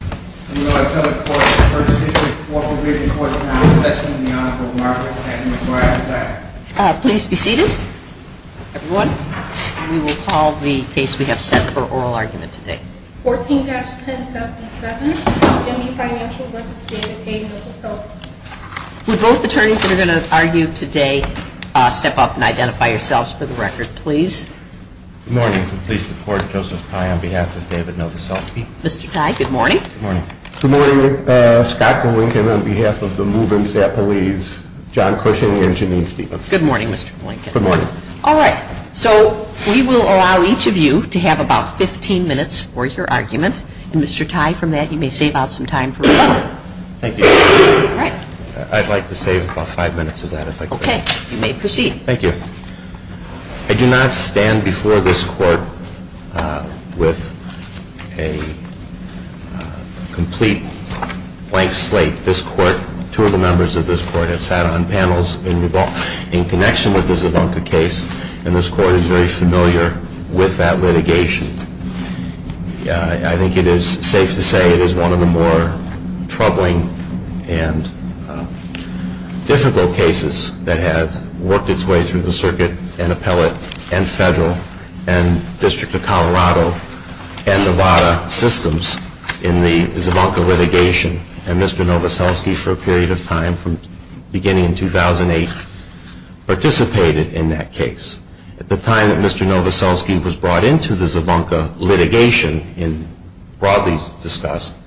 14-1077, N.B. Financial, N.A. v. David Novoseltsky Would both attorneys that are going to argue today step up and identify yourselves for the record, please? Good morning. I'm pleased to report Joseph Blanken on behalf of David Novoseltsky. Mr. Tye, good morning. Good morning. Good morning. Scott Blanken on behalf of the Movers-Dapper-Leaves, John Cushing and Janine Stevens. Good morning, Mr. Blanken. Good morning. All right. So we will allow each of you to have about 15 minutes for your argument. And Mr. Tye, from that, you may save out some time for your argument. Thank you. All right. I'd like to save about five minutes of that, if I could. Okay. You may proceed. Thank you. I do not stand before this court with a complete blank slate. This court, two of the members of this court have sat on panels in connection with this Ivanka case, and this court is very familiar with that litigation. I think it is safe to say it is one of the more troubling and difficult cases that has worked its way through the circuit and appellate and federal and District of Colorado and Nevada systems in the Ivanka litigation. And Mr. Novoseltsky, for a period of time, from beginning in 2008, participated in that case. At the time that Mr. Novoseltsky was brought into the Ivanka litigation, broadly discussed,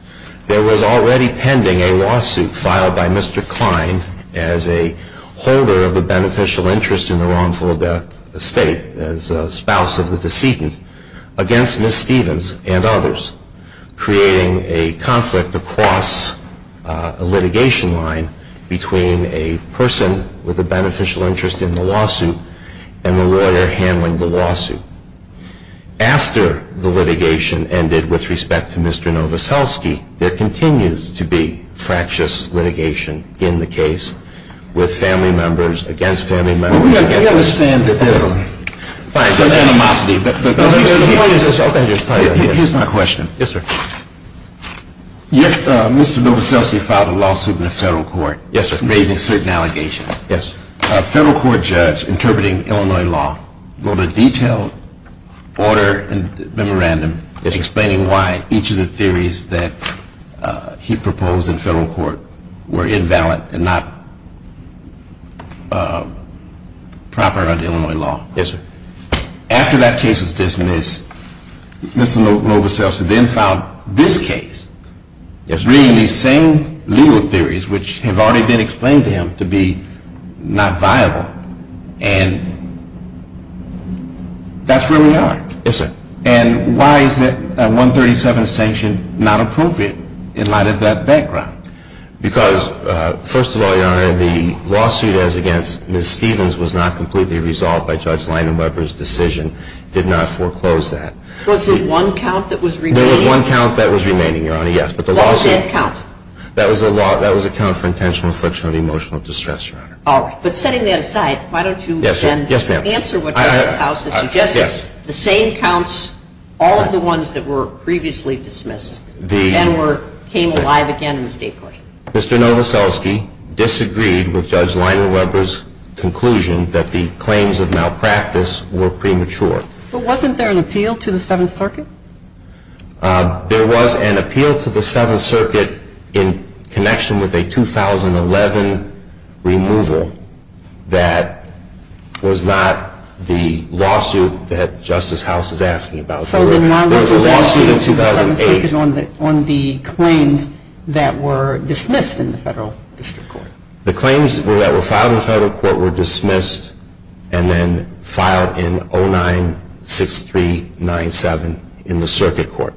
there was already pending a lawsuit filed by Mr. Klein as a holder of the beneficial interest in the wrongful death estate, as a spouse of the decedent, against Ms. Stevens and others, creating a conflict across a litigation line between a person with a beneficial interest in the lawsuit and the lawyer handling the lawsuit. After the litigation ended with respect to Mr. Novoseltsky, there continues to be fractious litigation in the case with family members against family members. We understand that there is animosity. Here is my question. Yes, sir. Mr. Novoseltsky filed a lawsuit in the federal court raising certain allegations. Yes, sir. A federal court judge interpreting Illinois law wrote a detailed order and memorandum explaining why each of the theories that he proposed in federal court were invalid and not proper under Illinois law. Yes, sir. After that case was dismissed, Mr. Novoseltsky then filed this case. Yes, sir. Reading these same legal theories, which have already been explained to him to be not viable, and that's where we are. Yes, sir. And why is that 137th sanction not appropriate in light of that background? Because, first of all, Your Honor, the lawsuit as against Ms. Stevens was not completely resolved by Judge Landenweber's decision, did not foreclose that. Was there one count that was remaining? Your Honor, yes. Was that count? That was a count for intentional infliction of emotional distress, Your Honor. All right. But setting that aside, why don't you then answer what the House has suggested. The same counts, all of the ones that were previously dismissed and came alive again in the state court. Mr. Novoseltsky disagreed with Judge Landenweber's conclusion that the claims of malpractice were premature. But wasn't there an appeal to the Seventh Circuit? There was an appeal to the Seventh Circuit in connection with a 2011 removal that was not the lawsuit that Justice House is asking about. So the lawsuit in 2008 was on the claims that were dismissed in the federal district court. The claims that were filed in the federal court were dismissed and then filed in 096397 in the circuit court.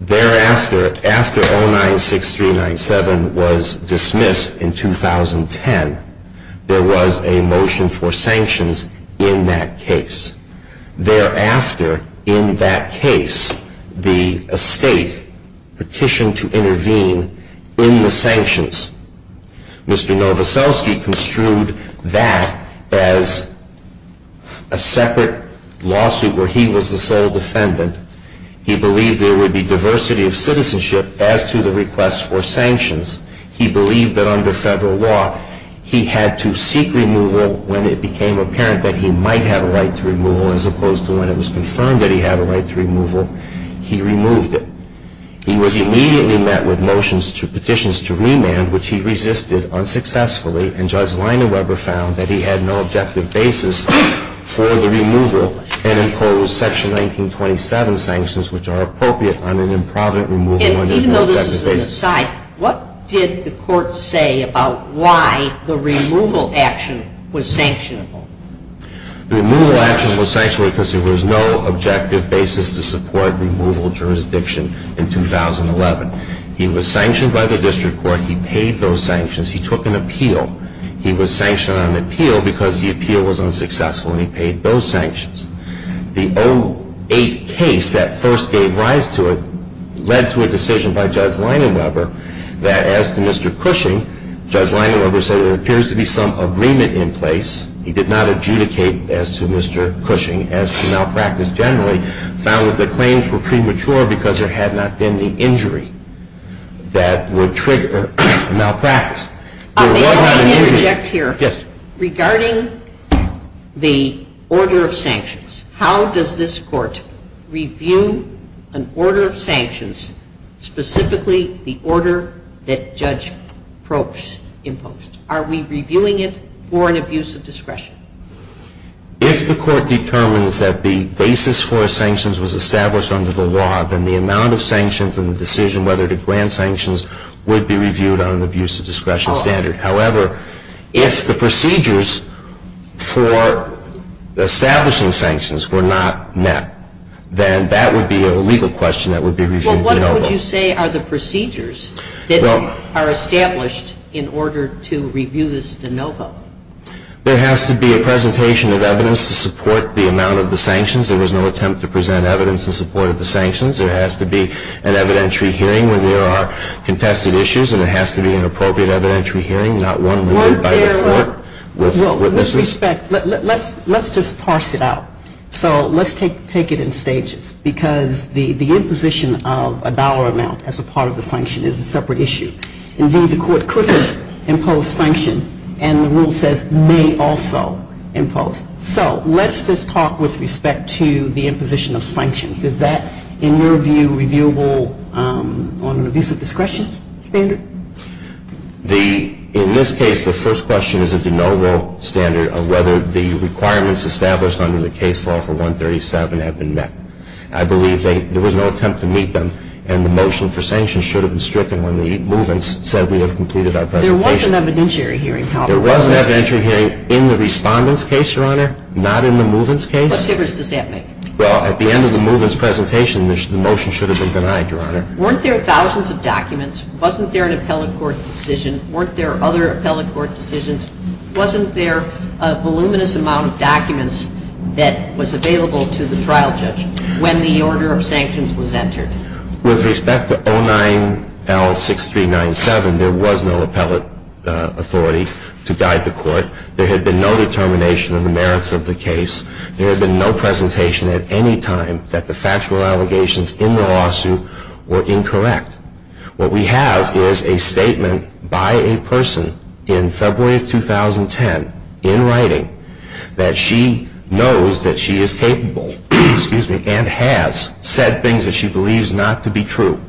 Thereafter, after 096397 was dismissed in 2010, there was a motion for sanctions in that case. Thereafter, in that case, the estate petitioned to intervene in the sanctions. Mr. Novoseltsky construed that as a separate lawsuit where he was the sole defendant. He believed there would be diversity of citizenship as to the request for sanctions. He believed that under federal law, he had to seek removal when it became apparent that he might have a right to removal as opposed to when it was confirmed that he had a right to removal. He removed it. He was immediately met with motions to petitions to remand, which he resisted unsuccessfully, and Judge Landenweber found that he had no objective basis for the removal and imposed Section 1927 sanctions, which are appropriate on an improvident removal. Even though this is an aside, what did the court say about why the removal action was sanctionable? The removal action was sanctioned because there was no objective basis to support removal jurisdiction in 2011. He was sanctioned by the district court. He paid those sanctions. He took an appeal. He was sanctioned on an appeal because the appeal was unsuccessful, and he paid those sanctions. The 08 case that first gave rise to it led to a decision by Judge Landenweber that as to Mr. Cushing, Judge Landenweber said there appears to be some agreement in place. He did not adjudicate as to Mr. Cushing as to malpractice generally, found that the claims were premature because there had not been the injury that would trigger malpractice. May I interject here? Yes. Regarding the order of sanctions, how does this court review an order of sanctions, specifically the order that Judge Probst imposed? Are we reviewing it for an abuse of discretion? If the court determines that the basis for sanctions was established under the law, then the amount of sanctions and the decision whether to grant sanctions would be reviewed on an abuse of discretion standard. However, if the procedures for establishing sanctions were not met, then that would be a legal question that would be reviewed by NOVA. What would you say are the procedures that are established in order to review this in NOVA? There has to be a presentation of evidence to support the amount of the sanctions. There is no attempt to present evidence in support of the sanctions. There has to be an evidentiary hearing where there are contested issues and there has to be an appropriate evidentiary hearing, not one by the court with witnesses. Let's just parse it out. So let's take it in stages because the imposition of a dollar amount as a part of the sanction is a separate issue. Indeed, the court couldn't impose sanctions and the rule says may also impose. So let's just talk with respect to the imposition of sanctions. Is that, in your view, reviewable on an abuse of discretion standard? In this case, the first question is if the NOVA standard of whether the requirements established under the case law for 137 have been met. I believe there was no attempt to meet them and the motion for sanctions should have been stricken when the movements said we have completed our presentation. There was an evidentiary hearing, however. There was an evidentiary hearing in the respondent's case, Your Honor, not in the movement's case. Well, at the end of the movement's presentation, the motion should have been denied, Your Honor. Weren't there thousands of documents? Wasn't there an appellate court's decision? Weren't there other appellate court's decisions? Wasn't there a voluminous amount of documents that was available to the trial judge when the order of sanctions was entered? With respect to 09L6397, there was no appellate authority to guide the court. There had been no determination of the merits of the case. There had been no presentation at any time that the factual allegations in the lawsuit were incorrect. What we have is a statement by a person in February of 2010, in writing, that she knows that she is capable and has said things that she believes not to be true.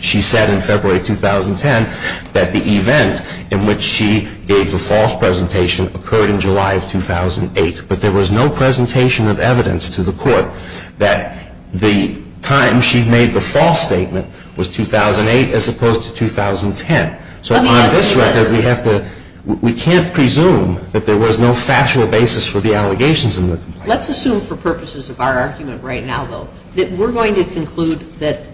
She said in February of 2010 that the event in which she gave the false presentation occurred in July of 2008, but there was no presentation of evidence to the court that the time she made the false statement was 2008 as opposed to 2010. So on this record, we can't presume that there was no factual basis for the allegations in the case. Let's assume for purposes of our argument right now, though, that we're going to conclude that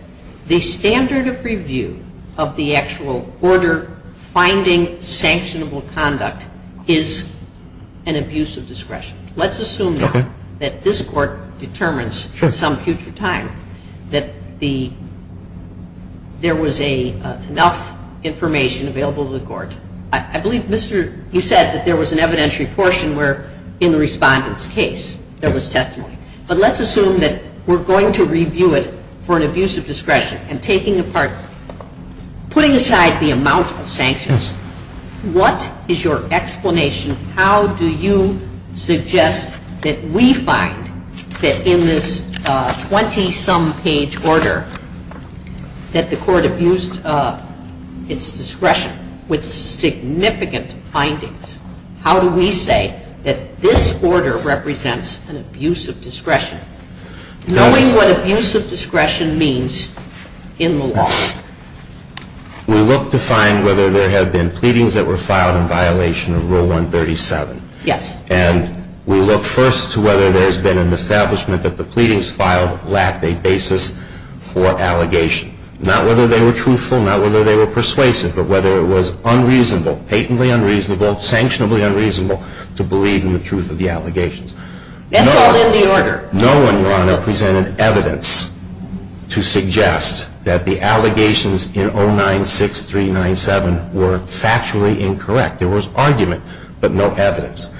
the standard of review of the actual order finding sanctionable conduct is an abuse of discretion. Let's assume now that this court determines at some future time that there was enough information available to the court. I believe you said that there was an evidentiary portion where, in the respondent's case, there was testimony. But let's assume that we're going to review it for an abuse of discretion, and taking apart, putting aside the amount of sanctions, what is your explanation? How do you suggest that we find that in this 20-some page order that the court abused its discretion with significant findings? How do we say that this order represents an abuse of discretion? Knowing what abuse of discretion means in the law. We look to find whether there have been pleadings that were filed in violation of Rule 137. Yes. And we look first to whether there's been an establishment that the pleadings filed lacked a basis for allegation. Not whether they were truthful, not whether they were persuasive, but whether it was unreasonable, patently unreasonable, sanctionably unreasonable to believe in the truth of the allegations. That's all in the order. No one, Your Honor, presented evidence to suggest that the allegations in 096397 were factually incorrect. There was argument, but no evidence.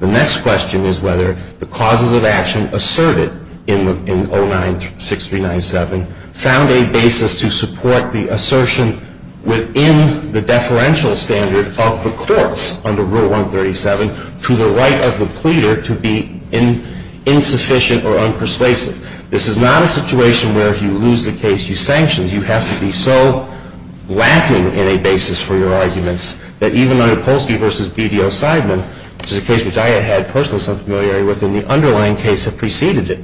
The next question is whether the causes of action asserted in 096397 found a basis to support the assertion within the deferential standard of the courts under Rule 137 to the right of the pleader to be insufficient or unpersuasive. This is not a situation where if you lose the case, you sanction it. You have to be so lacking in a basis for your arguments that even under Polsky v. BDO Seidman, which is a case that I had personally some familiarity with, and the underlying case that preceded it,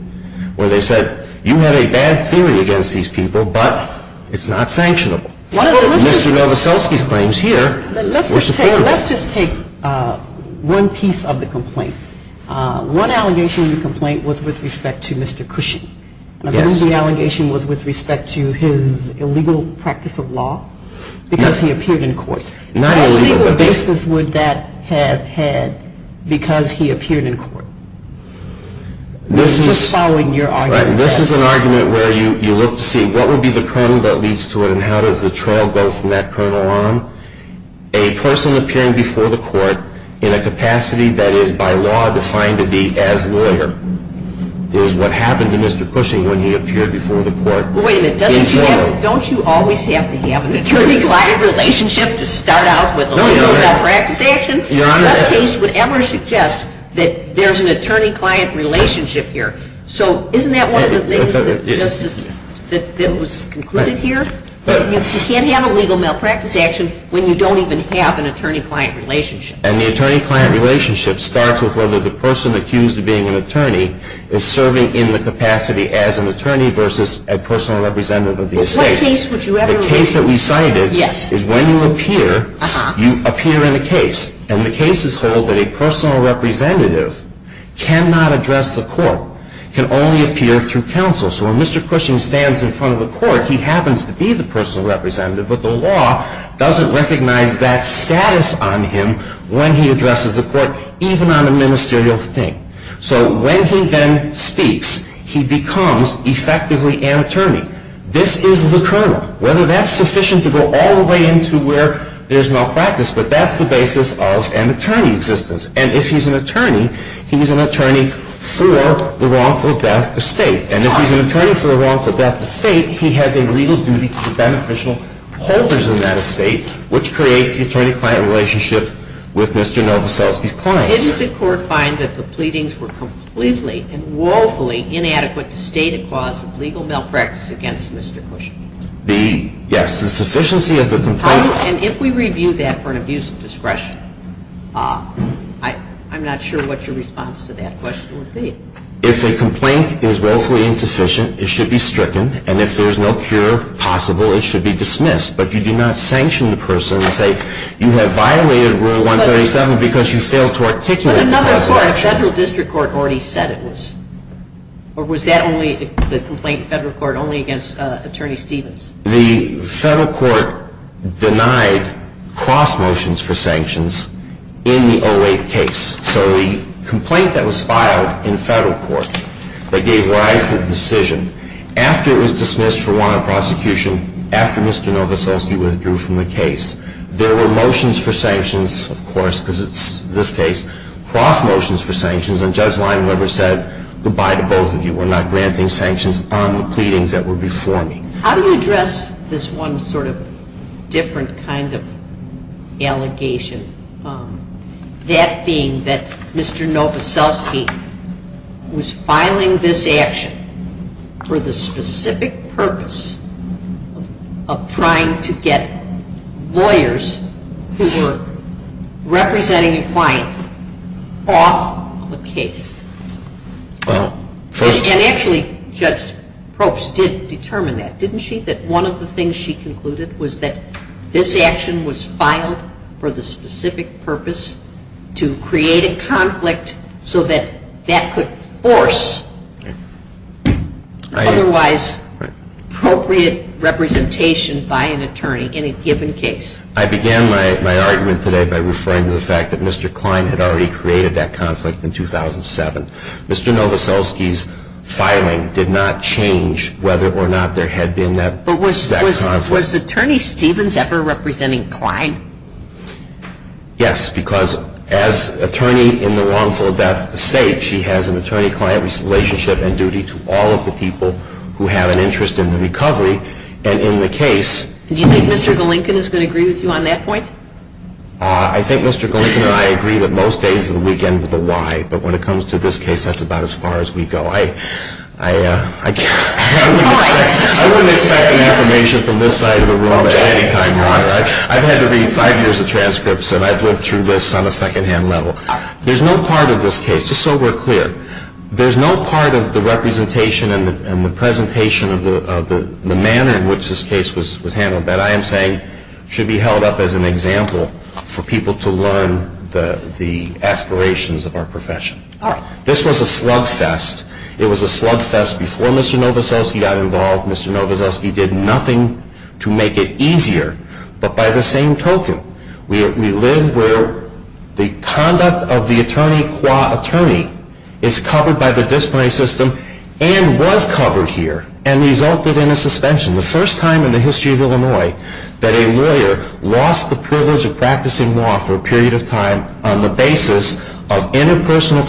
where they said, you have a bad theory against these people, but it's not sanctionable. Mr. Novoselsky's claim is here. Let's just take one piece of the complaint. One allegation in the complaint was with respect to Mr. Cushing. The other allegation was with respect to his illegal practice of law because he appeared in court. What basis would that have had because he appeared in court? This is an argument where you look to see what would be the kernel that leads to it and how does the trail go from that kernel on. A person appearing before the court in a capacity that is by law defined to be as lawyer is what happened to Mr. Cushing when he appeared before the court. Wait a minute. Don't you always have to have an attorney-client relationship to start out with legal practice actions? No case would ever suggest that there's an attorney-client relationship here. So, isn't that one of the things that was concluded here? You can't have a legal malpractice action when you don't even have an attorney-client relationship. And the attorney-client relationship starts with whether the person accused of being an attorney is serving in the capacity as an attorney versus a personal representative of the estate. The case that we cited is when you appear, you appear in a case, and the cases hold that a personal representative cannot address the court, can only appear through counsel. So when Mr. Cushing stands in front of the court, he happens to be the personal representative, but the law doesn't recognize that status on him when he addresses the court, even on a ministerial thing. So when he then speaks, he becomes effectively an attorney. This is the kernel. Whether that's sufficient to go all the way into where there's malpractice, but that's the basis of an attorney's existence. And if he's an attorney, he's an attorney for the wrongful death of state. And if he's an attorney for the wrongful death of state, he has a legal duty to the beneficial holders of that estate, which creates the attorney-client relationship with Mr. Novoselsky's client. Didn't the court find that the pleadings were completely and woefully inadequate to state a cause of legal malpractice against Mr. Cushing? Yes. The sufficiency of the complaint. And if we review that for an abuse of discretion, I'm not sure what your response to that question would be. If a complaint is woefully insufficient, it should be stricken, and if there's no cure possible, it should be dismissed. But you do not sanction the person. You have violated Rule 137 because you failed to articulate that. The federal district court already said it was. Or was that only the complaint in federal court only against Attorney Stevens? The federal court denied cross-motions for sanctions in the 08 case. So the complaint that was filed in federal court that gave rise to the decision, after it was dismissed for warrant of prosecution, after Mr. Novoselsky withdrew from the case, there were motions for sanctions, of course, because it's this case, cross-motions for sanctions. And Judge Leinweber said goodbye to both of you. We're not granting sanctions on the pleadings that were before me. How do you address this one sort of different kind of allegation, that being that Mr. Novoselsky was filing this action for the specific purpose of trying to get lawyers who were representing a client off the case? And actually, Judge Probst did determine that, didn't she, that one of the things she concluded was that this action was filed for the specific purpose to create a conflict, so that that could force otherwise appropriate representation by an attorney in a given case. I began my argument today by referring to the fact that Mr. Klein had already created that conflict in 2007. Mr. Novoselsky's filing did not change whether or not there had been that conflict. Was Attorney Stevens ever representing Klein? Yes, because as attorney in the wrongful death estate, she has an attorney-client relationship and duty to all of the people who have an interest in the recovery. And in the case... Do you think Mr. Golinkin is going to agree with you on that point? I think Mr. Golinkin and I agree that most agents will begin with a why. But when it comes to this case, that's about as far as we go. I wouldn't expect an affirmation from this side of the room at any time now. I've had to read five years of transcripts, and I've lived through this on a secondhand level. There's no part of this case, just so we're clear, there's no part of the representation and the presentation of the manner in which this case was handled that I am saying should be held up as an example for people to learn the aspirations of our profession. This was a slugfest. It was a slugfest before Mr. Novoselsky got involved. Mr. Novoselsky did nothing to make it easier. But by the same token, we live where the conduct of the attorney qua attorney is covered by the disciplinary system and was covered here and resulted in a suspension. The first time in the history of Illinois that a lawyer lost the privilege of practicing law for a period of time on the basis of interpersonal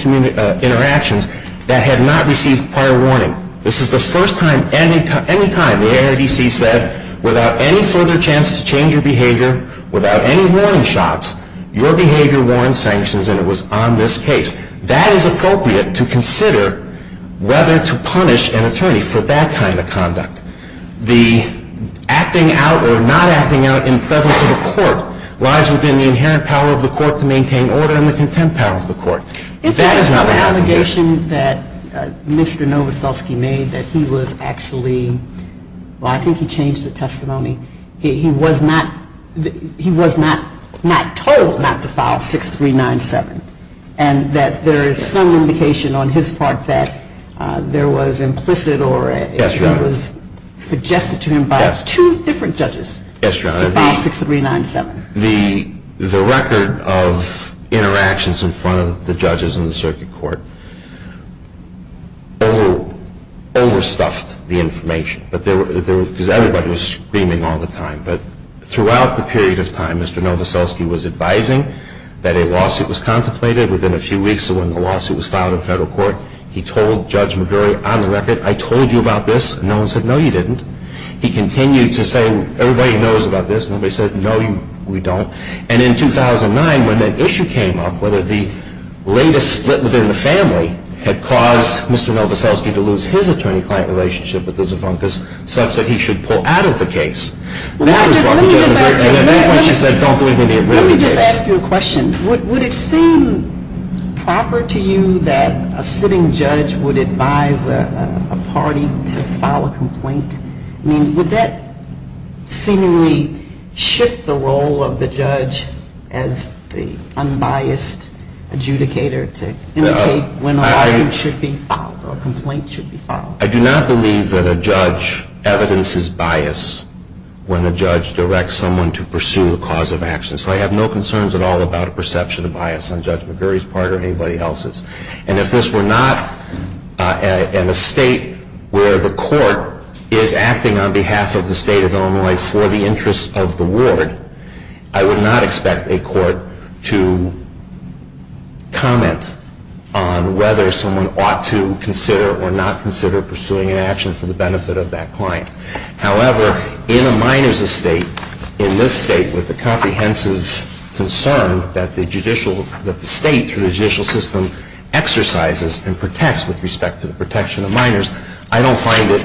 interactions that had not received prior warning. This is the first time any time the ANADC said, without any further chance to change your behavior, without any warning shots, your behavior warrants sanctions, and it was on this case. That is appropriate to consider whether to punish an attorney for that kind of conduct. The acting out or not acting out in federal court lies within the inherent power of the court to maintain order and the contempt power of the court. That is an allegation that Mr. Novoselsky made that he was actually, well, I think he changed his testimony. He was not told not to file 6397 and that there is some indication on his part that there was implicit Yes, Your Honor. It was suggested to him by two different judges. Yes, Your Honor. About 6397. The record of interactions in front of the judges in the circuit court overstuffed the information because everybody was screaming all the time. But throughout the period of time, Mr. Novoselsky was advising that a lawsuit was contemplated. Within a few weeks of when the lawsuit was filed in federal court, he told Judge McGurk, on the record, I told you about this. No one said, no, you didn't. He continued to say, everybody knows about this. Nobody said, no, we don't. And in 2009, when that issue came up, whether the latest split within the family had caused Mr. Novoselsky to lose his attorney-client relationship with Lisa Funkus, Stef said he should pull out of the case. Let me just ask you a question. Would it seem proper to you that a sitting judge would advise a party to file a complaint? Would that seemingly shift the role of the judge as the unbiased adjudicator to indicate when a lawsuit should be filed or a complaint should be filed? I do not believe that a judge evidences bias when a judge directs someone to pursue a cause of action. So I have no concerns at all about a perception of bias on Judge McGurk's part or anybody else's. And if this were not in a state where the court is acting on behalf of the state of Illinois for the interests of the ward, I would not expect a court to comment on whether someone ought to consider or not consider pursuing an action for the benefit of that client. However, in a minor's estate, in this state with the comprehensive concern that the state judicial system exercises and protects with respect to the protection of minors, I don't find it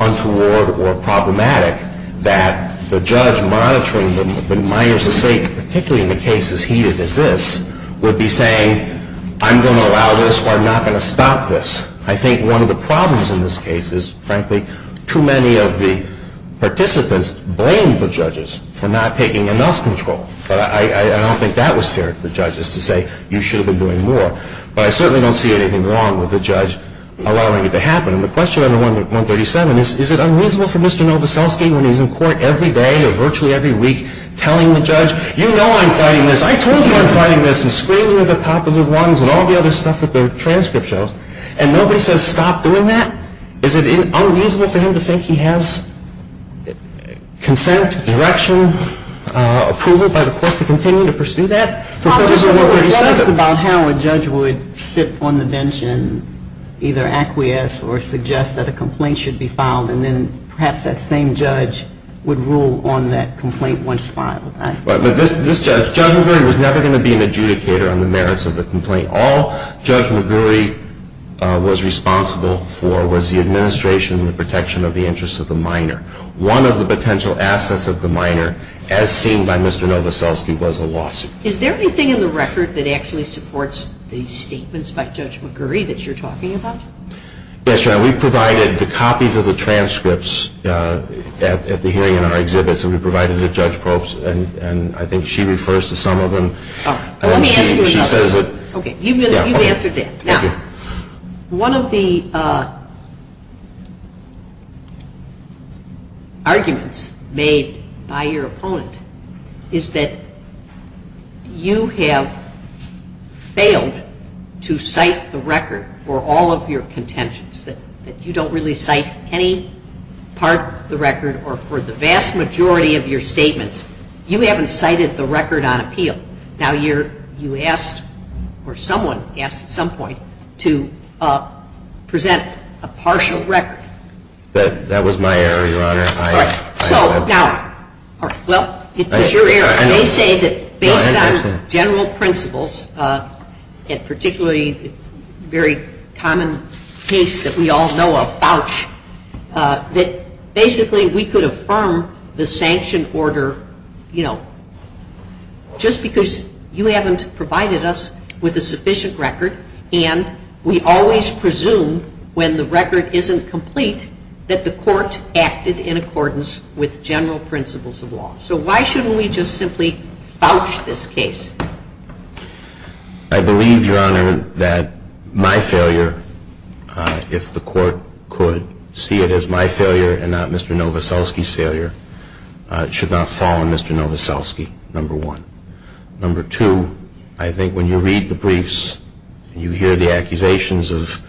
untoward or problematic that the judge monitoring the minor's estate, particularly in the cases heated as this, would be saying, I'm going to allow this or I'm not going to stop this. I think one of the problems in this case is, frankly, too many of the participants blamed the judges for not taking enough control. But I don't think that was fair to the judges to say, you should have been doing more. But I certainly don't see anything wrong with the judge allowing it to happen. And the question under 137 is, is it unreasonable for Mr. Novoselsky when he's in court every day or virtually every week telling the judge, you know I'm fighting this, I told you I'm fighting this, and screaming at the top of their lungs and all the other stuff that the transcript shows, and nobody says stop doing that? Is it unreasonable for him to say he has consent, direction, approval by the court to continue to pursue that? I don't know how a judge would sit on the bench and either acquiesce or suggest that a complaint should be filed and then perhaps that same judge would rule on that complaint once it's filed. This judge, Judge McGurry, was never going to be an adjudicator on the merits of the complaint. All Judge McGurry was responsible for was the administration and the protection of the interests of the minor. One of the potential assets of the minor, as seen by Mr. Novoselsky, was a lawsuit. Is there anything in the record that actually supports these statements by Judge McGurry that you're talking about? Yes, Your Honor, we provided the copies of the transcripts at the hearing and our exhibits, and we provided them to Judge Probst, and I think she refers to some of them. Let me answer that. Okay, you've answered that. One of the arguments made by your opponent is that you have failed to cite the record for all of your contentions, that you don't really cite any part of the record, or for the vast majority of your statements, you haven't cited the record on appeal. Now, you asked, or someone asked at some point, to present a partial record. Well, it's your error. They say that based on general principles, and particularly a very common case that we all know of, that basically we could affirm the sanction order, you know, just because you haven't provided us with a sufficient record, and we always presume when the record isn't complete that the court acted in accordance with general principles of law. So why shouldn't we just simply vouch this case? I believe, Your Honor, that my failure, if the court could see it as my failure and not Mr. Novoselsky's failure, should not fall on Mr. Novoselsky, number one. Number two, I think when you read the briefs and you hear the accusations of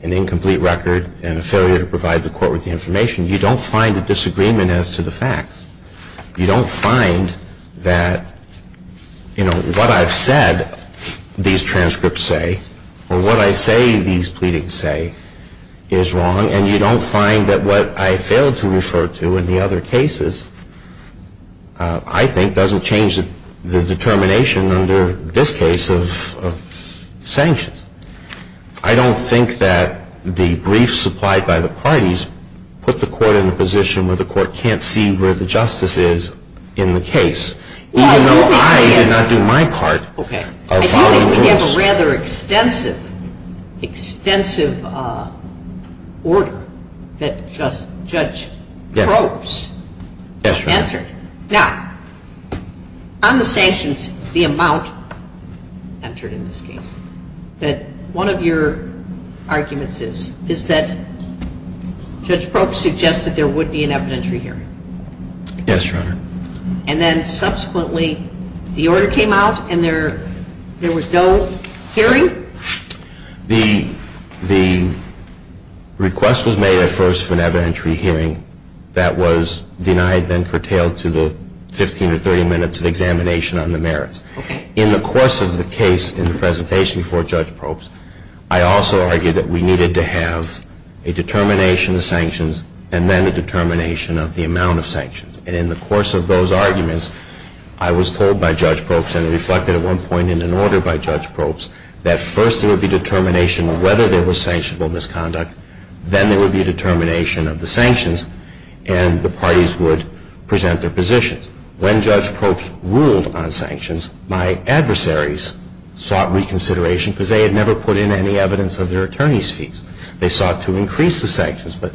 an incomplete record and a failure to provide the court with the information, you don't find a disagreement as to the facts. You don't find that, you know, what I've said these transcripts say, or what I say these pleadings say, is wrong, and you don't find that what I failed to refer to in the other cases, I think, doesn't change the determination under this case of sanctions. I don't think that the briefs supplied by the parties put the court in a position where the court can't see where the justice is in the case, even though I did not do my part. Okay. I do believe we have a rather extensive, extensive order that Judge Probst entered. Now, on the sanctions, the amount entered in this case, that one of your arguments is that Judge Probst suggested there would be an evidentiary hearing. Yes, Your Honor. And then, subsequently, the order came out and there was no hearing? The request was made at first for an evidentiary hearing that was denied, then curtailed to the 15 to 30 minutes of examination on the merits. Okay. In the course of the case and the presentation before Judge Probst, I also argued that we needed to have a determination of sanctions and then a determination of the amount of sanctions. And in the course of those arguments, I was told by Judge Probst and reflected at one point in an order by Judge Probst, that first there would be a determination of whether there was sanctionable misconduct, then there would be a determination of the sanctions, and the parties would present their positions. When Judge Probst ruled on sanctions, my adversaries sought reconsideration because they had never put in any evidence of their attorney's fees. They sought to increase the sanctions, but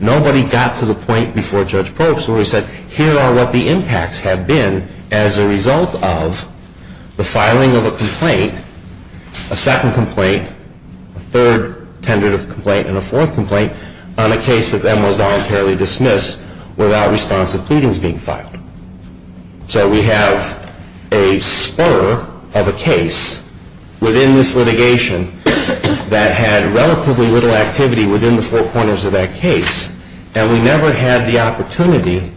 nobody got to the point before Judge Probst where he said, here are what the impacts have been as a result of the filing of a complaint, a second complaint, a third tentative complaint, and a fourth complaint, on a case that was voluntarily dismissed without response to pleadings being filed. So we have a spoiler of a case within this litigation that had relatively little activity within the four corners of that case, and we never had the opportunity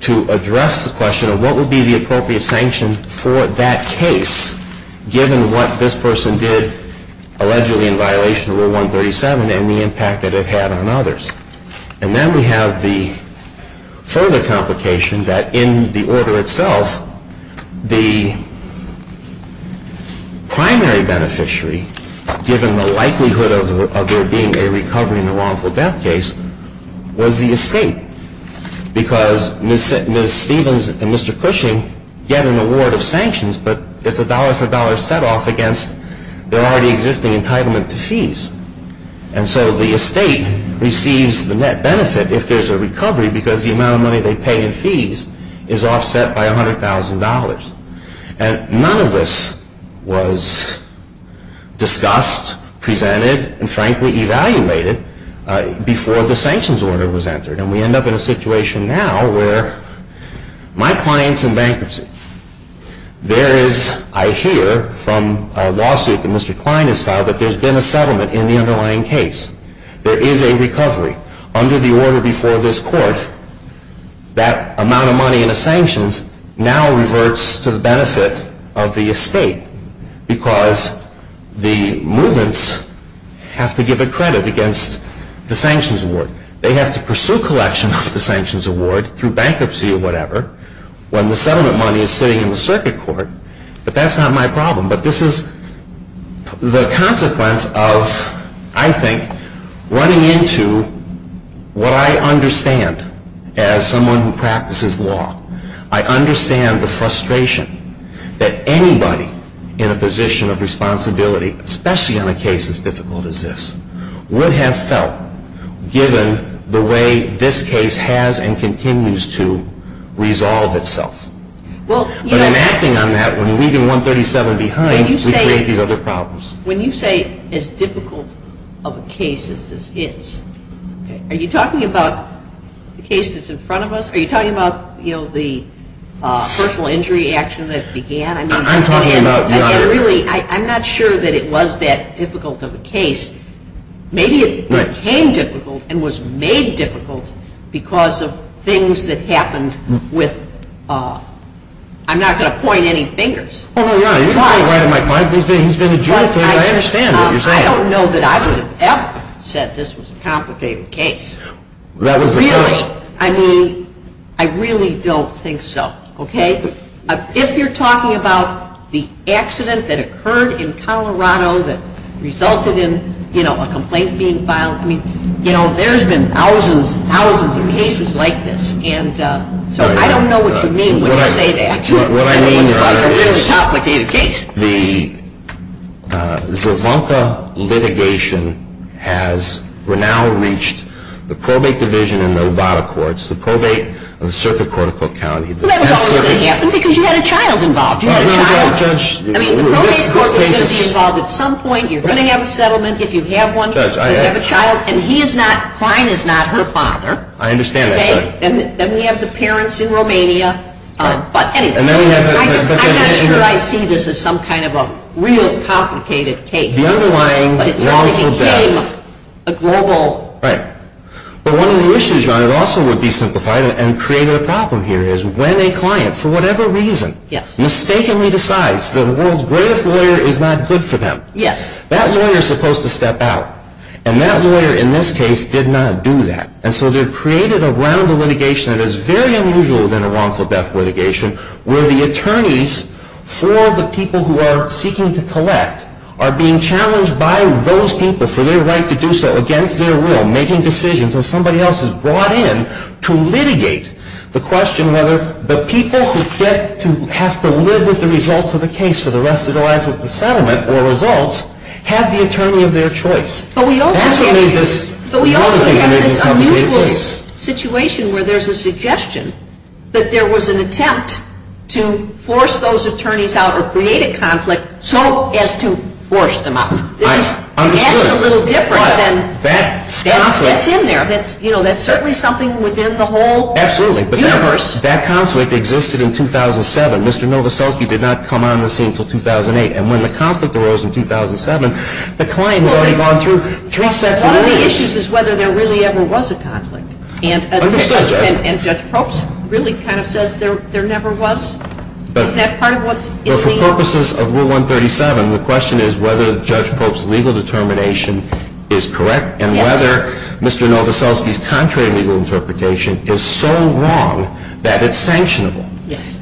to address the question of what would be the appropriate sanctions for that case, given what this person did allegedly in violation of Rule 137 and the impact that it had on others. And then we have the further complication that in the order itself, the primary beneficiary, given the likelihood of there being a recovery in a wrongful death case, was the estate, because Ms. Stevens and Mr. Cushing get an award of sanctions, but it's a dollar-for-dollar set-off against their already existing entitlement to fees. And so the estate receives the net benefit if there's a recovery because the amount of money they pay in fees is offset by $100,000. And none of this was discussed, presented, and frankly evaluated before the sanctions order was entered, and we end up in a situation now where my client's in bankruptcy. I hear from a lawsuit that Mr. Klein has filed that there's been a settlement in the underlying case. There is a recovery. Under the order before this court, that amount of money in the sanctions now reverts to the benefit of the estate because the movements have to give it credit against the sanctions award. They have to pursue collection of the sanctions award through bankruptcy or whatever when the settlement money is sitting in the circuit court, but that's not my problem. But this is the consequence of, I think, running into what I understand as someone who practices law. I understand the frustration that anybody in a position of responsibility, especially on a case as difficult as this, would have felt given the way this case has and continues to resolve itself. But I'm acting on that. When we leave the 137 behind, we create these other problems. When you say as difficult of a case as this is, are you talking about the case that's in front of us? Are you talking about the personal injury action that began? I'm talking about the other. I'm not sure that it was that difficult of a case. Maybe it became difficult and was made difficult because of things that happened with... I'm not going to point any fingers. Oh, no, no, you're not going to point any fingers. I don't know that I would have ever said this was a complicated case. Really, I mean, I really don't think so. If you're talking about the accident that occurred in Colorado that resulted in a complaint being filed, there's been thousands and thousands of cases like this. I don't know what you mean when you say that. What I mean by that is the Zimbabwe litigation has now reached the probate division in Nevada courts, the probate and the circuit courts of the county. Well, that's not going to happen because you had a child involved. I mean, the probate court is going to be involved at some point. You're going to have a settlement if you have one. You have a child, and he is not, Klein is not her father. I understand that, Judge. Then we have the parents in Romania. I'm not sure I see this as some kind of a real complicated case. The underlying wrongful death. But one of the issues, and it also would be simplified and create a problem here, is when a client, for whatever reason, mistakenly decides that the world's greatest lawyer is not good for them, that lawyer is supposed to step out, and that lawyer in this case did not do that. And so they've created a round of litigation that is very unusual in a wrongful death litigation where the attorneys for the people who are seeking to collect are being challenged by those people for their right to do so against their will, making decisions, and somebody else is brought in to litigate the question whether the people who have to live with the results of the case for the rest of the life of the settlement or results have the attorney of their choice. But we also have this unusual situation where there's a suggestion that there was an attempt to force those attorneys out or create a conflict so as to force them out. That's a little different than what's in there. That's certainly something within the whole universe. Absolutely, but that conflict existed in 2007. Mr. Novoselsky did not come on the scene until 2008, and when the conflict arose in 2007, the client had already gone through. One of the issues is whether there really ever was a conflict, and Judge Probst really kind of says there never was. For purposes of Rule 137, the question is whether Judge Probst's legal determination is correct and whether Mr. Novoselsky's contrary legal interpretation is so wrong that it's sanctionable.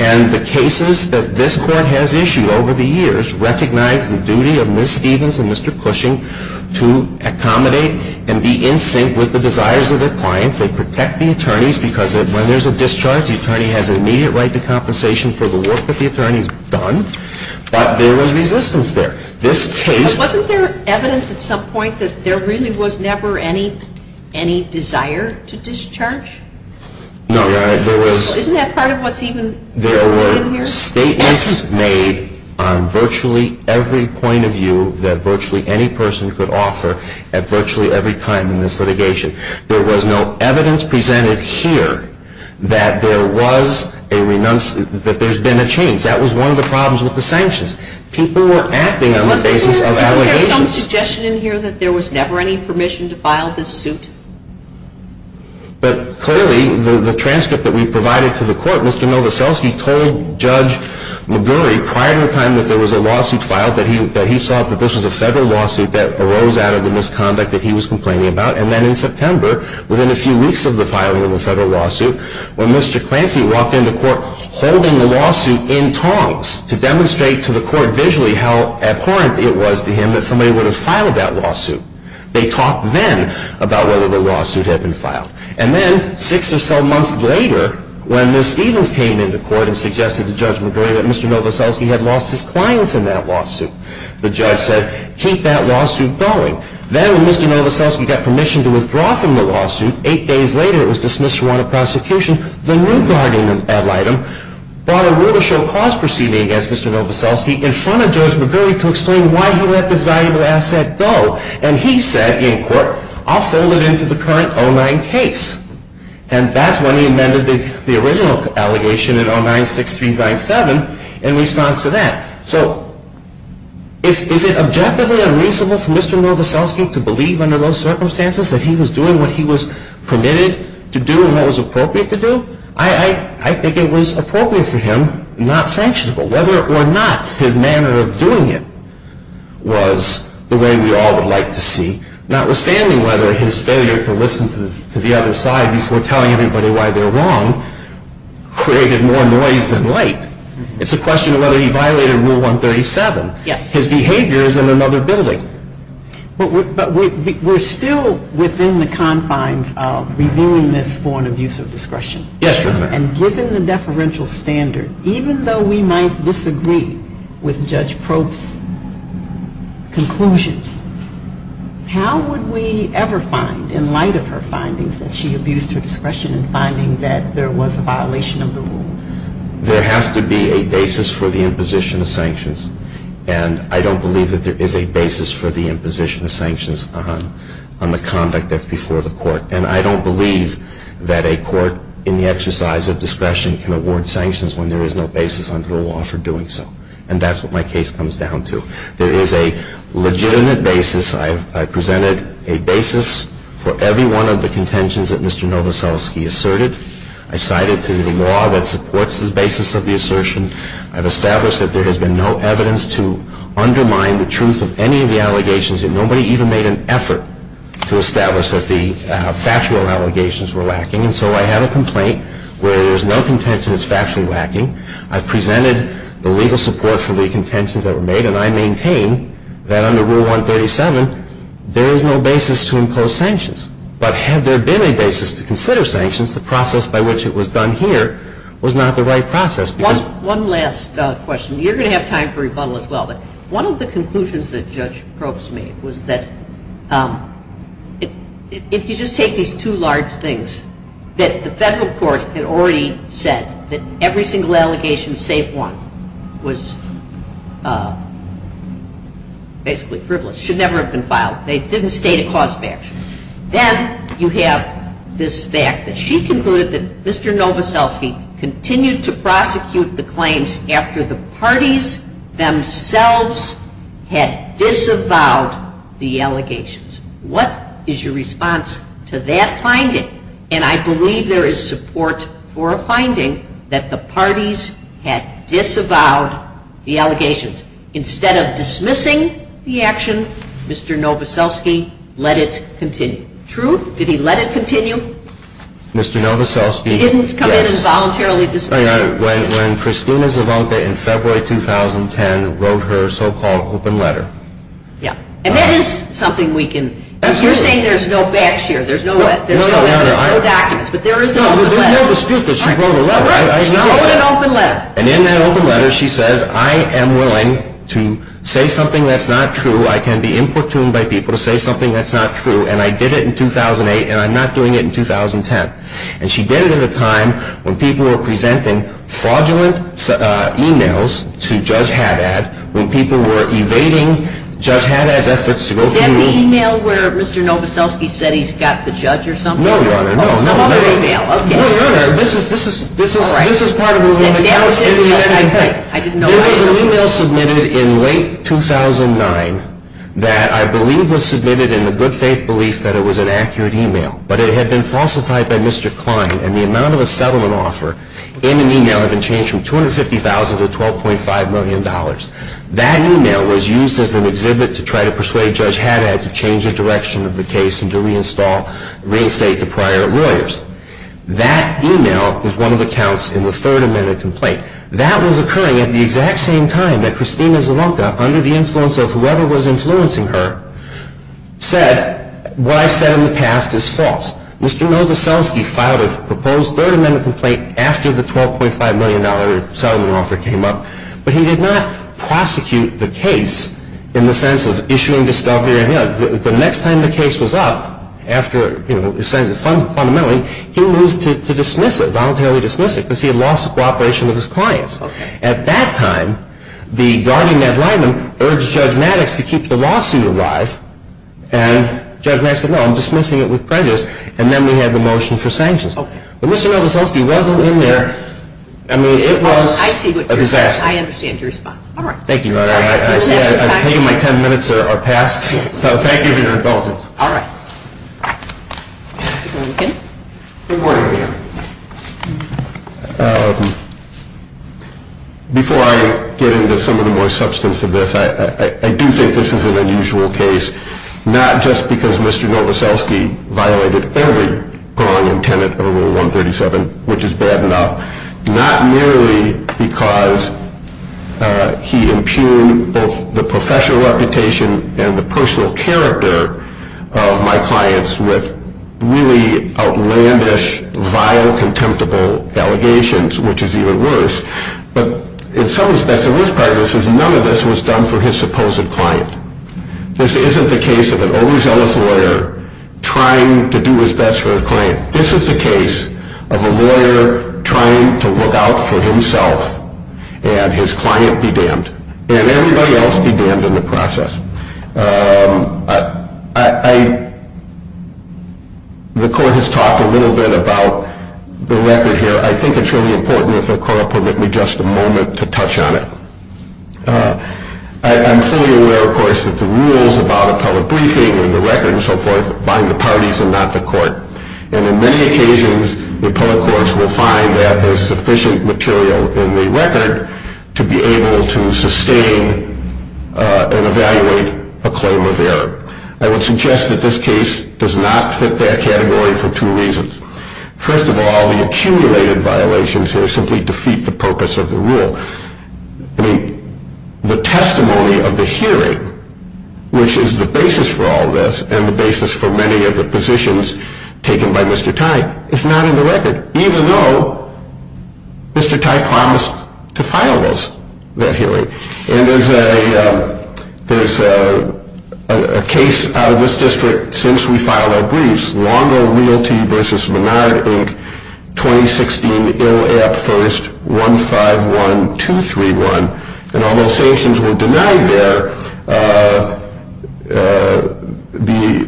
And the cases that this Court has issued over the years recognize the duty of Ms. Stevens and Mr. Cushing to accommodate and be in sync with the desires of their clients. They protect the attorneys because when there's a discharge, the attorney has immediate right to compensation for the work that the attorney's done, but there was resistance there. Wasn't there evidence at some point that there really was never any desire to discharge? No. Isn't that part of what's even going on here? There were statements made on virtually every point of view that virtually any person could offer at virtually every time in this litigation. There was no evidence presented here that there's been a change. That was one of the problems with the sanctions. People were acting on the basis of that. Isn't there some suggestion in here that there was never any permission to file this suit? But clearly, the transcript that we provided to the Court, Mr. Novoselsky told Judge McGurry prior to the time that there was a lawsuit filed that he saw that this was a federal lawsuit that arose out of the misconduct that he was complaining about. And then in September, within a few weeks of the filing of the federal lawsuit, when Mr. Clancy walked into court holding the lawsuit in tongs to demonstrate to the Court visually how abhorrent it was to him that somebody would have filed that lawsuit, they talked then about whether the lawsuit had been filed. And then six or so months later, when Ms. Edens came into court and suggested to Judge McGurry that Mr. Novoselsky had lost his clients in that lawsuit, the judge said, keep that lawsuit going. Then when Mr. Novoselsky got permission to withdraw from the lawsuit, eight days later it was dismissed from court of prosecution, the new guardian ad litem brought a rule to show cause proceeding against Mr. Novoselsky in front of Judge McGurry to explain why he let this valuable asset go. And he said, in court, I'll fill it into the current O-9 case. And that's when he amended the original allegation in O-9-6397 in response to that. So, is it objectively unreasonable for Mr. Novoselsky to believe under those circumstances that he was doing what he was permitted to do and what was appropriate to do? I think it was appropriate for him, not sanctionable. Whether or not his manner of doing it was the way we all would like to see, notwithstanding whether his failure to listen to the other side before telling everybody why they're wrong created more noise than light. It's a question of whether he violated Rule 137. His behavior is in another building. But we're still within the confines of reviewing this for an abuse of discretion. Yes, Your Honor. And given the deferential standard, even though we might disagree with Judge Probst's conclusions, how would we ever find, in light of her findings, that she abused her discretion in finding that there was a violation of the rule? There has to be a basis for the imposition of sanctions. And I don't believe that there is a basis for the imposition of sanctions on the conduct that's before the court. And I don't believe that a court, in the exercise of discretion, can award sanctions when there is no basis under the law for doing so. And that's what my case comes down to. There is a legitimate basis. I presented a basis for every one of the contentions that Mr. Novoselsky asserted. I cited the law that supports the basis of the assertion. I've established that there has been no evidence to undermine the truth of any of the allegations and nobody even made an effort to establish that the factual allegations were lacking. And so I have a complaint where there's no contention that's factually lacking. I've presented the legal support for the contentions that were made, and I maintain that under Rule 137 there is no basis to impose sanctions. But had there been a basis to consider sanctions, the process by which it was done here was not the right process. One last question. You're going to have time for rebuttal as well. But one of the conclusions that Judge Probst made was that if you just take these two large things, that the federal court had already said that every single allegation, save one, was basically frivolous, should never have been filed. They didn't state a cause of action. Then you have this fact that she concluded that Mr. Novoselsky continued to prosecute the claims after the parties themselves had disavowed the allegations. What is your response to that finding? And I believe there is support for a finding that the parties had disavowed the allegations. Instead of dismissing the action, Mr. Novoselsky let it continue. True? Did he let it continue? He didn't come in and voluntarily dismiss it. When Christina Zavonka in February 2010 wrote her so-called open letter. And that is something we can discuss. You're saying there's no backshear, there's no documents, but there is an open letter. No, there's no dispute that she wrote a letter. She wrote an open letter. And in that open letter she says, I am willing to say something that's not true, I can be importuned by people to say something that's not true, and I did it in 2008 and I'm not doing it in 2010. And she did it at a time when people were presenting fraudulent e-mails to Judge Haddad, when people were evading Judge Haddad's efforts to open the... The e-mail where Mr. Novoselsky said he's got the judge or something? No, no, no. I want the e-mail. No, no, no. This is part of the... I didn't know that. There was an e-mail submitted in late 2009 that I believe was submitted in the good faith belief that it was an accurate e-mail. But it had been falsified by Mr. Klein, and the amount of a settlement offer in an e-mail had been changed from $250,000 to $12.5 million. That e-mail was used as an exhibit to try to persuade Judge Haddad to change the direction of the case and to reinstall real estate to private realtors. That e-mail was one of the counts in the Third Amendment complaint. That was occurring at the exact same time that Christina Zavonka, under the influence of whoever was influencing her, said what I said in the past is false. Mr. Novoselsky filed a proposed Third Amendment complaint after the $12.5 million settlement offer came up, but he did not prosecute the case in the sense of issuing discovery ahead. The next time the case was up, after, you know, essentially, fundamentally, he moved to dismiss it, voluntarily dismiss it, because he had lost the cooperation of his clients. At that time, the guardian, Ned Lyman, urged Judge Maddox to keep the lawsuit alive, and Judge Maddox said, no, I'm dismissing it with prejudice. And then we had the motion for sanctions. But Mr. Novoselsky wasn't in there. I mean, it was a disaster. I see what you're saying. I understand your response. Thank you, Your Honor. I take it my ten minutes are past. So thank you for your indulgence. All right. Mr. Blanken? Good morning, Your Honor. Before I get into some of the more substance of this, I do think this is an unusual case, not just because Mr. Novoselsky violated every ruling intended under Rule 137, which is bad enough, not merely because he impugned both the professional reputation and the personal character of my clients with really outlandish, vile, contemptible allegations, which is even worse. But in some respect, the real prejudice is none of this was done for his supposed client. This isn't the case of an Arizona lawyer trying to do his best for a client. This is the case of a lawyer trying to look out for himself and his client be damned, and everybody else be damned in the process. The Court has talked a little bit about the record here. I think it's really important if the Court will give me just a moment to touch on it. I'm fully aware, of course, that the rules about appellate briefing and the record and so forth bind the parties and not the Court. And in many occasions, the appellate courts will find that there's sufficient material in the record to be able to sustain and evaluate a claim of error. I would suggest that this case does not fit that category for two reasons. First of all, the accumulated violations will simply defeat the purpose of the rule. I mean, the testimony of the hearing, which is the basis for all this and the basis for many of the positions taken by Mr. Tai, is not in the record, even though Mr. Tai promised to file this hearing. And there's a case out of this district since we filed our briefs, Longo Realty v. Monadic, Inc., 2016, Ill App 1st 151231, and all those sanctions were denied there.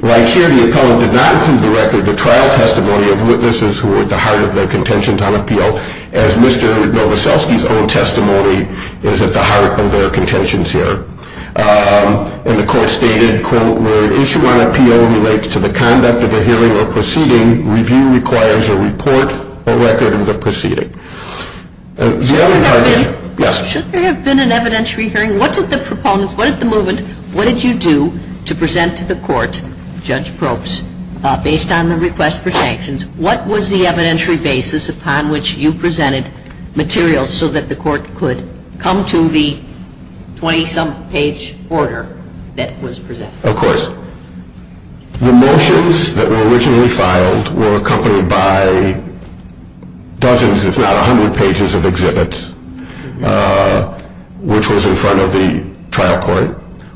Right here, the appellant did not include the record, the trial testimony of witnesses who were at the heart of their contention on appeal, as Mr. Novoselsky's own testimony is at the heart of their contention here. And the Court stated, quote, where an issue on appeal relates to the conduct of the hearing or proceeding, review requires a report or record of the proceeding. The other part of it, yes? Well, should there have been an evidentiary hearing? What did the proponents, what did the movement, what did you do to present to the Court, Judge Probst, based on the request for sanctions? What was the evidentiary basis upon which you presented materials so that the Court could come to the 20-some page order that was presented? Of course. The motions that were originally filed were accompanied by dozens, if not hundreds of pages of exhibits, which was in front of the trial court,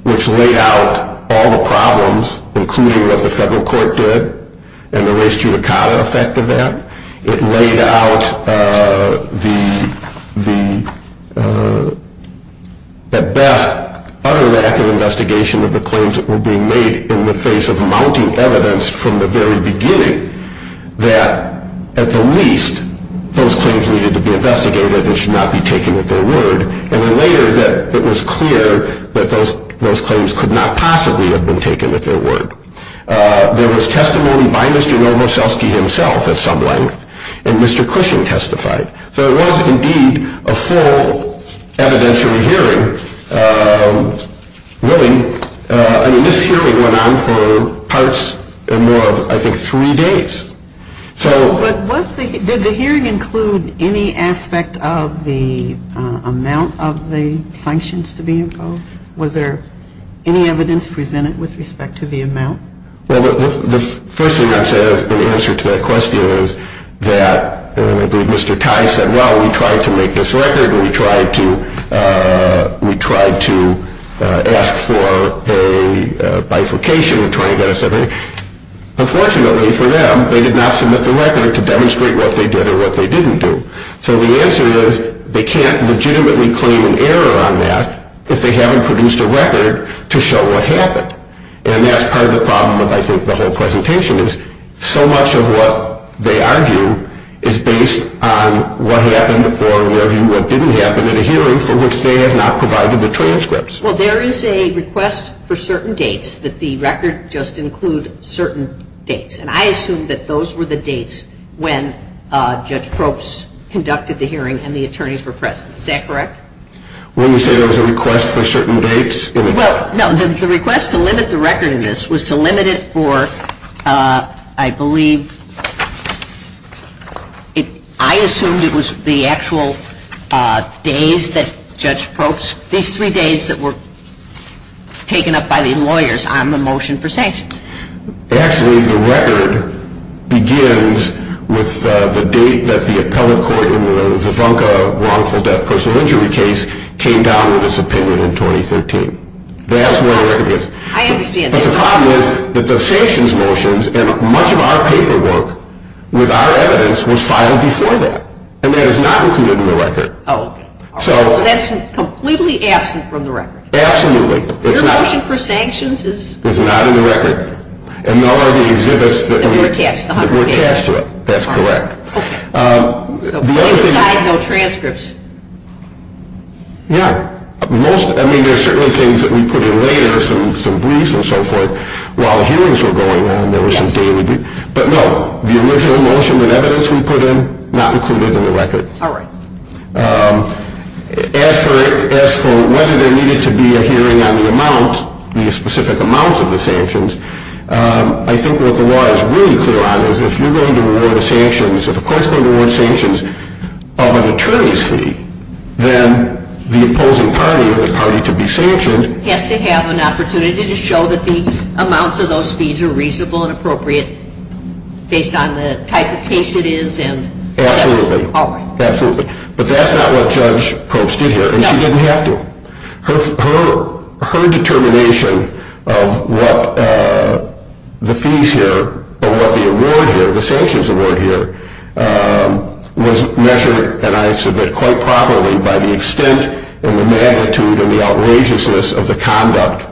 which laid out all the problems, including what the federal court did and the res judicata effect of that. It laid out the, at best, utter lack of investigation of the claims that were being made in the face of mounting evidence from the very beginning that, at the least, those claims needed to be investigated and should not be taken at their word, and then later that it was clear that those claims could not possibly have been taken at their word. There was testimony by Mr. Novoselsky himself, at some length, and Mr. Cushing testified. So it was, indeed, a full evidentiary hearing. Really, this hearing went on for parts and more of, I think, three days. Did the hearing include any aspect of the amount of the sanctions to be involved? Was there any evidence presented with respect to the amount? Well, the first thing I said in answer to that question is that Mr. Tye said, well, we tried to make this record and we tried to ask for a bifurcation and try to get us something. Unfortunately for them, they did not submit the record to demonstrate what they did or what they didn't do. So the answer is they can't legitimately claim an error on that if they haven't produced a record to show what happened. And that's part of the problem of, I think, the whole presentation is so much of what they argue is based on what happened or what didn't happen in the hearing from which they have not provided the transcripts. Well, there is a request for certain dates that the record just includes certain dates, and I assume that those were the dates when Judge Probst conducted the hearing and the attorneys were present. Is that correct? When you say there was a request for certain dates, it was. Well, no. The request to limit the record in this was to limit it for, I believe, I assumed it was the actual days that Judge Probst, these three days that were taken up by the lawyers on the motion for sanction. Actually, the record begins with the date that the Appellate Court in the Zefunka wrongful death personal injury case came down with its opinion in 2013. That's where the record is. I understand that. But the problem is that the sanctions motions and much of our paperwork with our evidence was filed before that, and that is not included in the record. Oh, okay. So that's completely absent from the record. Absolutely. The motion for sanctions is not in the record. And none of the exhibits were attached to it. That's correct. Except for transcripts. Yeah. I mean, there are certain things that we put in later, some briefs and so forth, while hearings were going on and there were some daily briefs. But, no, the initial motion and evidence we put in, not included in the record. All right. As for whether there needed to be a hearing on the amount, the specific amounts of the sanctions, I think what the law is really clear on is if you're going to award sanctions, if a court is going to award sanctions of an attorney's fee, then the opposing party or this party could be sanctioned. They have to have an opportunity to show that the amounts of those fees are reasonable and appropriate based on the type of case it is. Absolutely. But that's not what Judge Post did here, and she didn't have to. Her determination of what the fees here or what the award here, the sanctions award here, was measured, and I submit, quite properly by the extent and the magnitude and the outrageousness of the conduct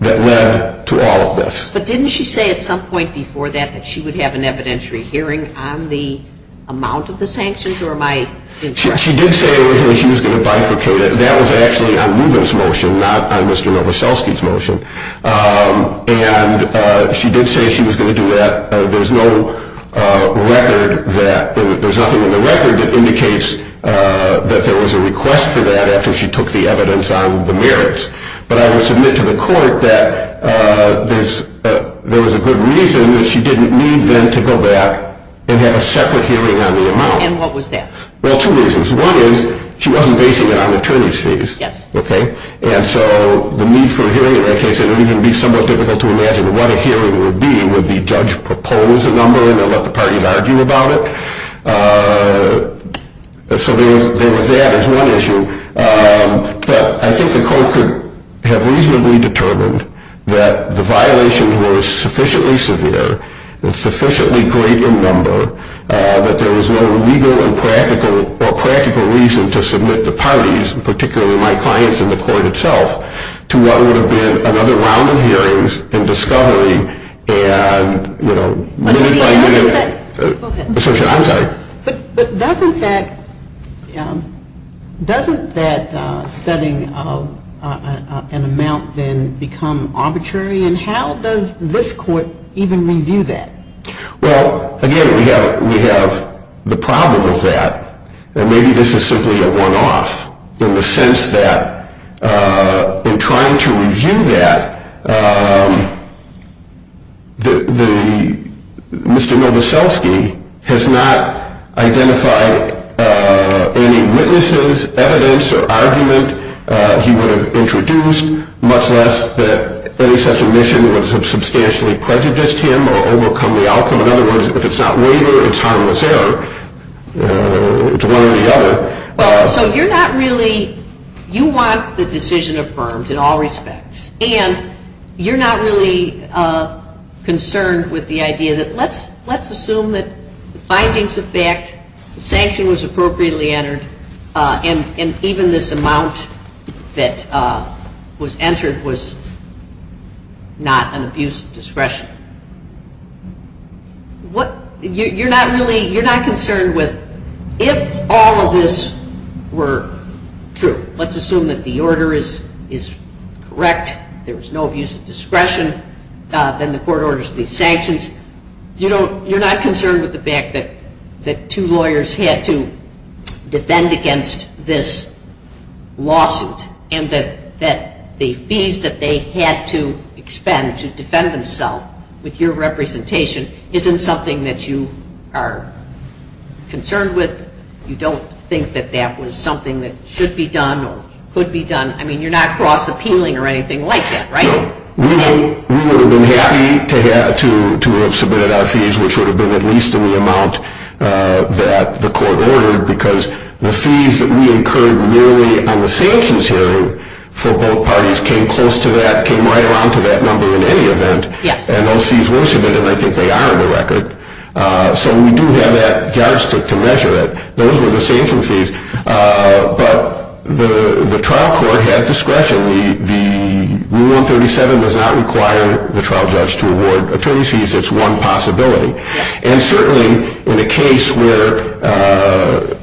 that led to all of this. But didn't she say at some point before that that she would have an evidentiary hearing on the amount of the sanctions? She did say that she was going to bifurcate it. That was actually on Rubin's motion, not on Mr. Novoselsky's motion. And she did say she was going to do that. There's no record that there's nothing in the record that indicates that there was a request for that after she took the evidence on the merits. But I will submit to the court that there was a good reason that she didn't need then to go back and have a separate hearing on the amount. And what was that? Well, two reasons. One is she wasn't basing it on the attorney's fees. And so the need for a hearing in that case, it would even be somewhat difficult to imagine what a hearing would be. Would the judge propose a number and then let the parties argue about it? So there was that as one issue. But I think the court could have reasonably determined that the violation was sufficiently severe, a sufficiently greater number, that there was no legal or practical reason to submit the parties, and particularly my clients in the court itself, to what would have been another round of hearings and discovery. But doesn't that setting an amount then become arbitrary? And how does this court even review that? Well, again, we have the problem of that. And maybe this is simply a one-off in the sense that in trying to review that, Mr. Novoselsky has not identified any witnesses, evidence, or argument he would have introduced, much less that any such omission would have substantially prejudiced him or overcome the outcome. In other words, if it's not legal, it's harmless error to one or the other. So you're not really, you want the decision affirmed in all respects, and you're not really concerned with the idea that let's assume that findings affect, that the sanction was appropriately entered, and even this amount that was entered was not an abuse of discretion. You're not really, you're not concerned with if all of this were true, let's assume that the order is correct, there's no abuse of discretion, then the court orders these sanctions. You're not concerned with the fact that two lawyers had to defend against this lawsuit and that the fees that they had to expend to defend themselves with your representation isn't something that you are concerned with? You don't think that that was something that should be done or could be done? I mean, you're not cross-appealing or anything like that, right? No. We would have been happy to have submitted our fees, which would have been at least the amount that the court ordered, because the fees that we incurred merely on the sanctions hearing for both parties came close to that, came right along to that number in any event, and those fees were submitted, and I think they are on the record. So we do have that judge to measure it. Those were the sanction fees. But the trial court had discretion. Rule 37 does not require the trial judge to award attorney fees. It's one possibility. And certainly in a case where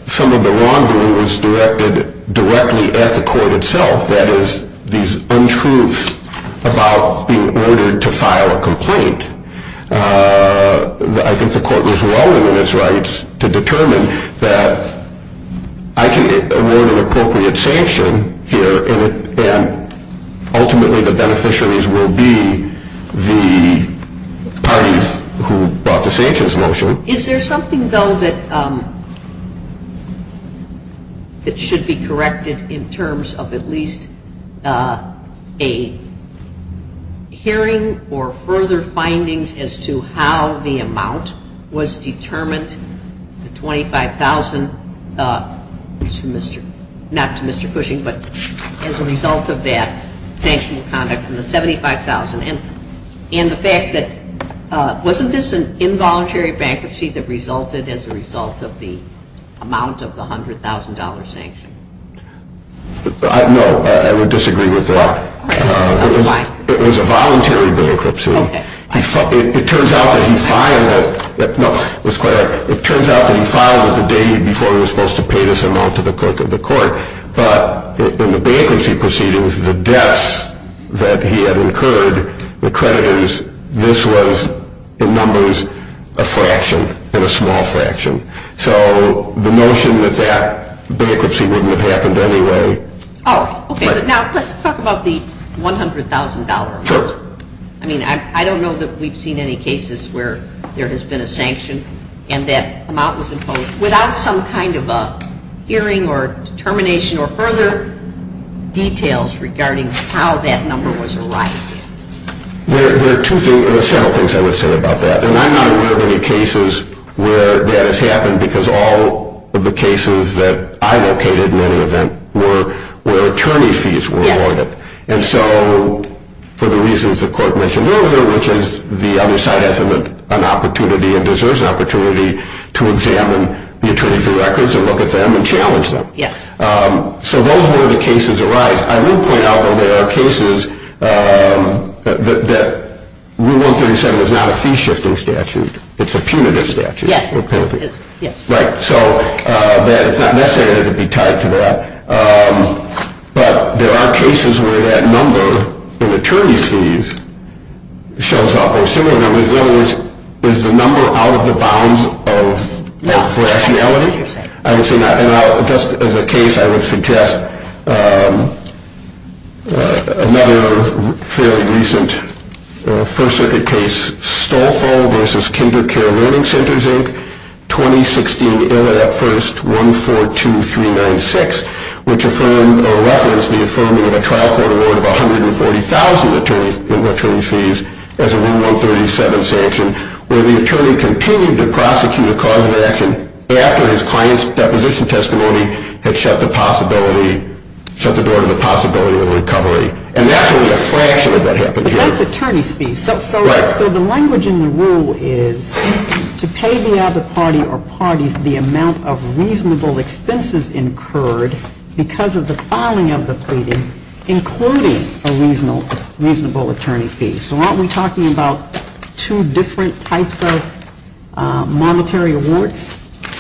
some of the wrongdoing was directed directly at the court itself, that is, these untruths about being ordered to file a complaint, I think the court was well within its rights to determine that I can award an appropriate sanction here, and then ultimately the beneficiaries will be the parties who brought the sanctions motion. Is there something, though, that should be corrected in terms of at least a hearing or further findings as to how the amount was determined, the $25,000, not to Mr. Cushing, but as a result of that sanctioned conduct, the $75,000, and the fact that wasn't this an involuntary bankruptcy that resulted as a result of the amount of the $100,000 sanction? No, I would disagree with that. It was a voluntary bankruptcy. It turns out that he filed it the day before he was supposed to pay this amount to the court. But in the bankruptcy proceedings, the deaths that he had incurred, the credit is this was, in numbers, a fraction, and a small fraction. So the notion that that bankruptcy wouldn't have happened anyway. Oh, okay. Now, let's talk about the $100,000. Sure. I mean, I don't know that we've seen any cases where there has been a sanction and that amount was imposed without some kind of a hearing or termination or further details regarding how that number was allotted. There are several things I would say about that, and I'm not aware of any cases where that has happened because all of the cases that I located in any event were where attorney fees were allotted. And so for the reasons the court mentioned earlier, which is the other side has an opportunity and deserves an opportunity to examine the attorney's records and look at them and challenge them. So those are where the cases arise. I will point out that there are cases that Rule 137 is not a fee-shifting statute. It's a punitive statute. Yes. Right. So it's not necessary to be tied to that. But there are cases where that number in attorney fees shows up. Similarly, Brazil is the number out of the bounds of rationality. And just as a case, I would suggest another fairly recent first-circuit case, Stolfo v. Kindercare Learning Centers, Inc., 2016, first 142396, which referenced the affirming of a trial court award of $140,000 in attorney fees as a Rule 137 sanction, where the attorney continued to prosecute a crime in action after his client's deposition testimony had shut the door to the possibility of recovery. And that was a fraction of what happened here. So the language in the rule is to pay the other party or parties the amount of reasonable expenses incurred because of the filing of the pleading, including a reasonable attorney fee. So aren't we talking about two different types of monetary awards,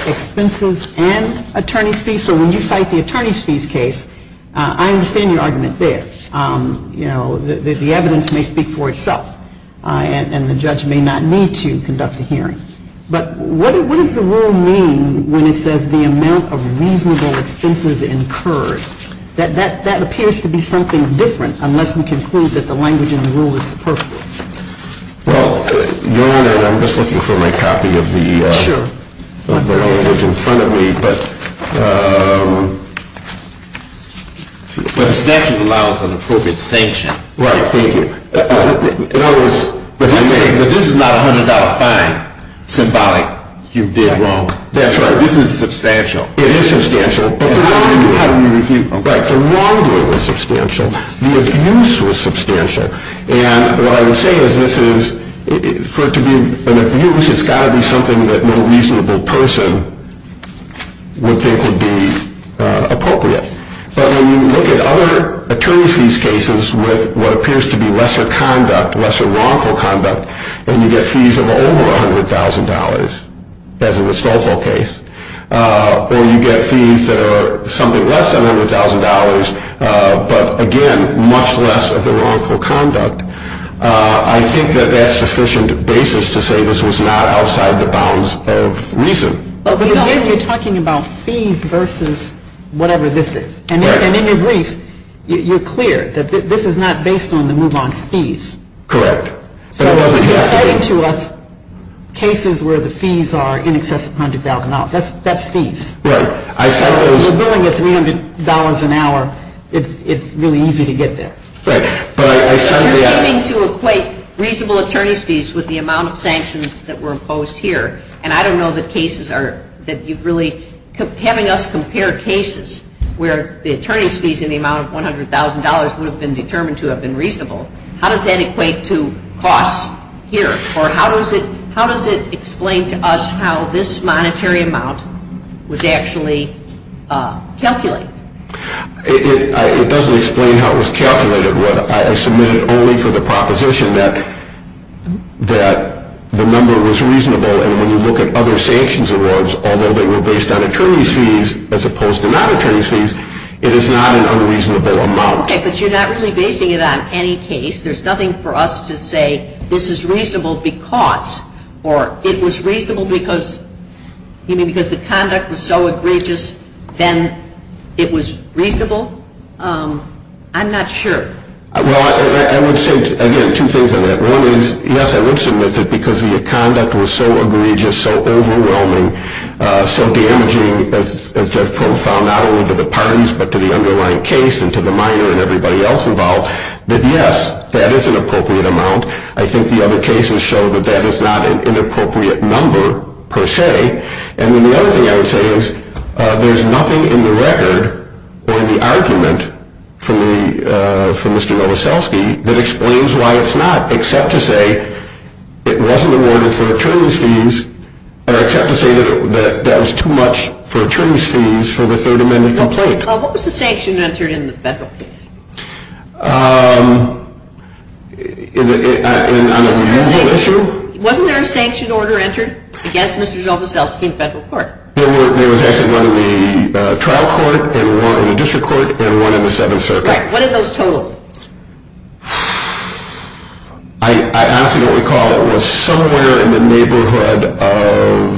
expenses and attorney fees? So when you cite the attorney's fees case, I understand your argument there. The evidence may speak for itself, and the judge may not need to conduct a hearing. But what does the rule mean when it says the amount of reasonable expenses incurred? That appears to be something different unless we conclude that the language in the rule is appropriate. Well, Your Honor, I'm just looking for my copy of the language in front of me. But it's actually allowed for the appropriate sanction. Right, thank you. But this is not $100 fine symbolic. You're dead wrong. That's right. This is substantial. It is substantial. But the wrong word is substantial. The abuse is substantial. And what I would say is this is, for it to be an abuse, it's got to be something that no reasonable person would think would be appropriate. But when you look at other attorney fees cases with what appears to be lesser conduct, lesser wrongful conduct, and you get fees of over $100,000, as in the Stolfo case, or you get fees that are something less than $100,000, but, again, much less of the wrongful conduct, I think that that's sufficient basis to say this was not outside the bounds of reason. But again, you're talking about fees versus whatever this is. And in your brief, you're clear that this is not based on the move-on fees. Correct. So you're just saying to us cases where the fees are in excess of $100,000. That's fees. Right. So if you're dealing with $300 an hour, it's really easy to get there. Right. I'm trying to equate reasonable attorney's fees with the amount of sanctions that were imposed here. And I don't know that cases are, that you've really, having us compare cases where the attorney's fees in the amount of $100,000 would have been determined to have been reasonable, how does that equate to costs here? Or how does it explain to us how this monetary amount was actually calculated? It doesn't explain how it was calculated. I submitted it only for the proposition that the number was reasonable. And when you look at other sanctions awards, although they were based on attorney's fees as opposed to not attorney's fees, it is not an unreasonable amount. Okay. But you're not really basing it on any case. There's nothing for us to say this is reasonable because, or it was reasonable because, you know, because the conduct was so egregious, then it was reasonable. I'm not sure. Well, I would say, again, two things on that. One is, yes, I would submit that because the conduct was so egregious, so overwhelming, so damaging and so profound not only to the parties but to the underlying case and to the minor and everybody else involved, that, yes, that is an appropriate amount. I think the other cases show that that is not an inappropriate number per se. And then the other thing I would say is there's nothing in the record or in the argument for Mr. Robesowski that explains why it's not except to say it wasn't awarded for attorney's fees and except to say that that was too much for attorney's fees for the Third Amendment complaint. Mr. McCaul, what was the sanction entered in the federal case? Um, is it on a mutual issue? Wasn't there a sanction order entered against Mr. Robesowski in federal court? There was actually one in the trial court and one in the district court and one in the seventh circuit. Correct. What are those totals? I absolutely recall it was somewhere in the neighborhood of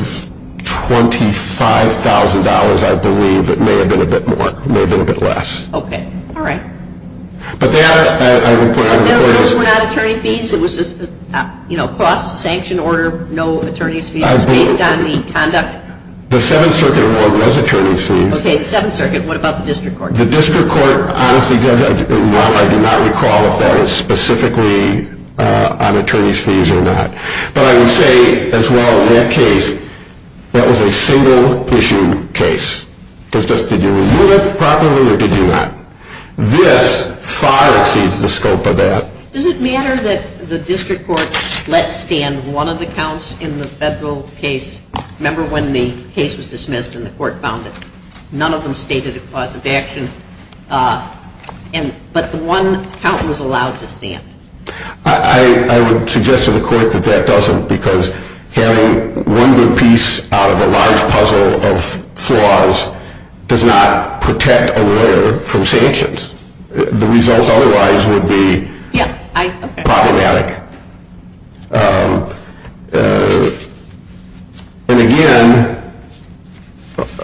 $25,000, I believe. It may have been a bit more. It may have been a bit less. Okay. All right. But then I would put on the record... But those were not attorney's fees? It was just, you know, cross-sanction order, no attorney's fees? I believe... Based on the conduct? The seventh circuit award was attorney's fees. Okay, the seventh circuit. What about the district court? The district court, honestly, I do not recall if that is specifically on attorney's fees or not. But I would say, as well, in that case, that was a single-issue case. It was just, did you renew it properly or did you not? This far exceeds the scope of that. Does it matter that the district court let stand one of the counts in the federal case? Remember when the case was dismissed and the court found it? None of them stated a clause of action, but the one count was allowed to stand. I would suggest to the court that that doesn't, because carrying one good piece out of a large puzzle of flaws does not protect a lawyer from sanctions. The result otherwise would be problematic. And again,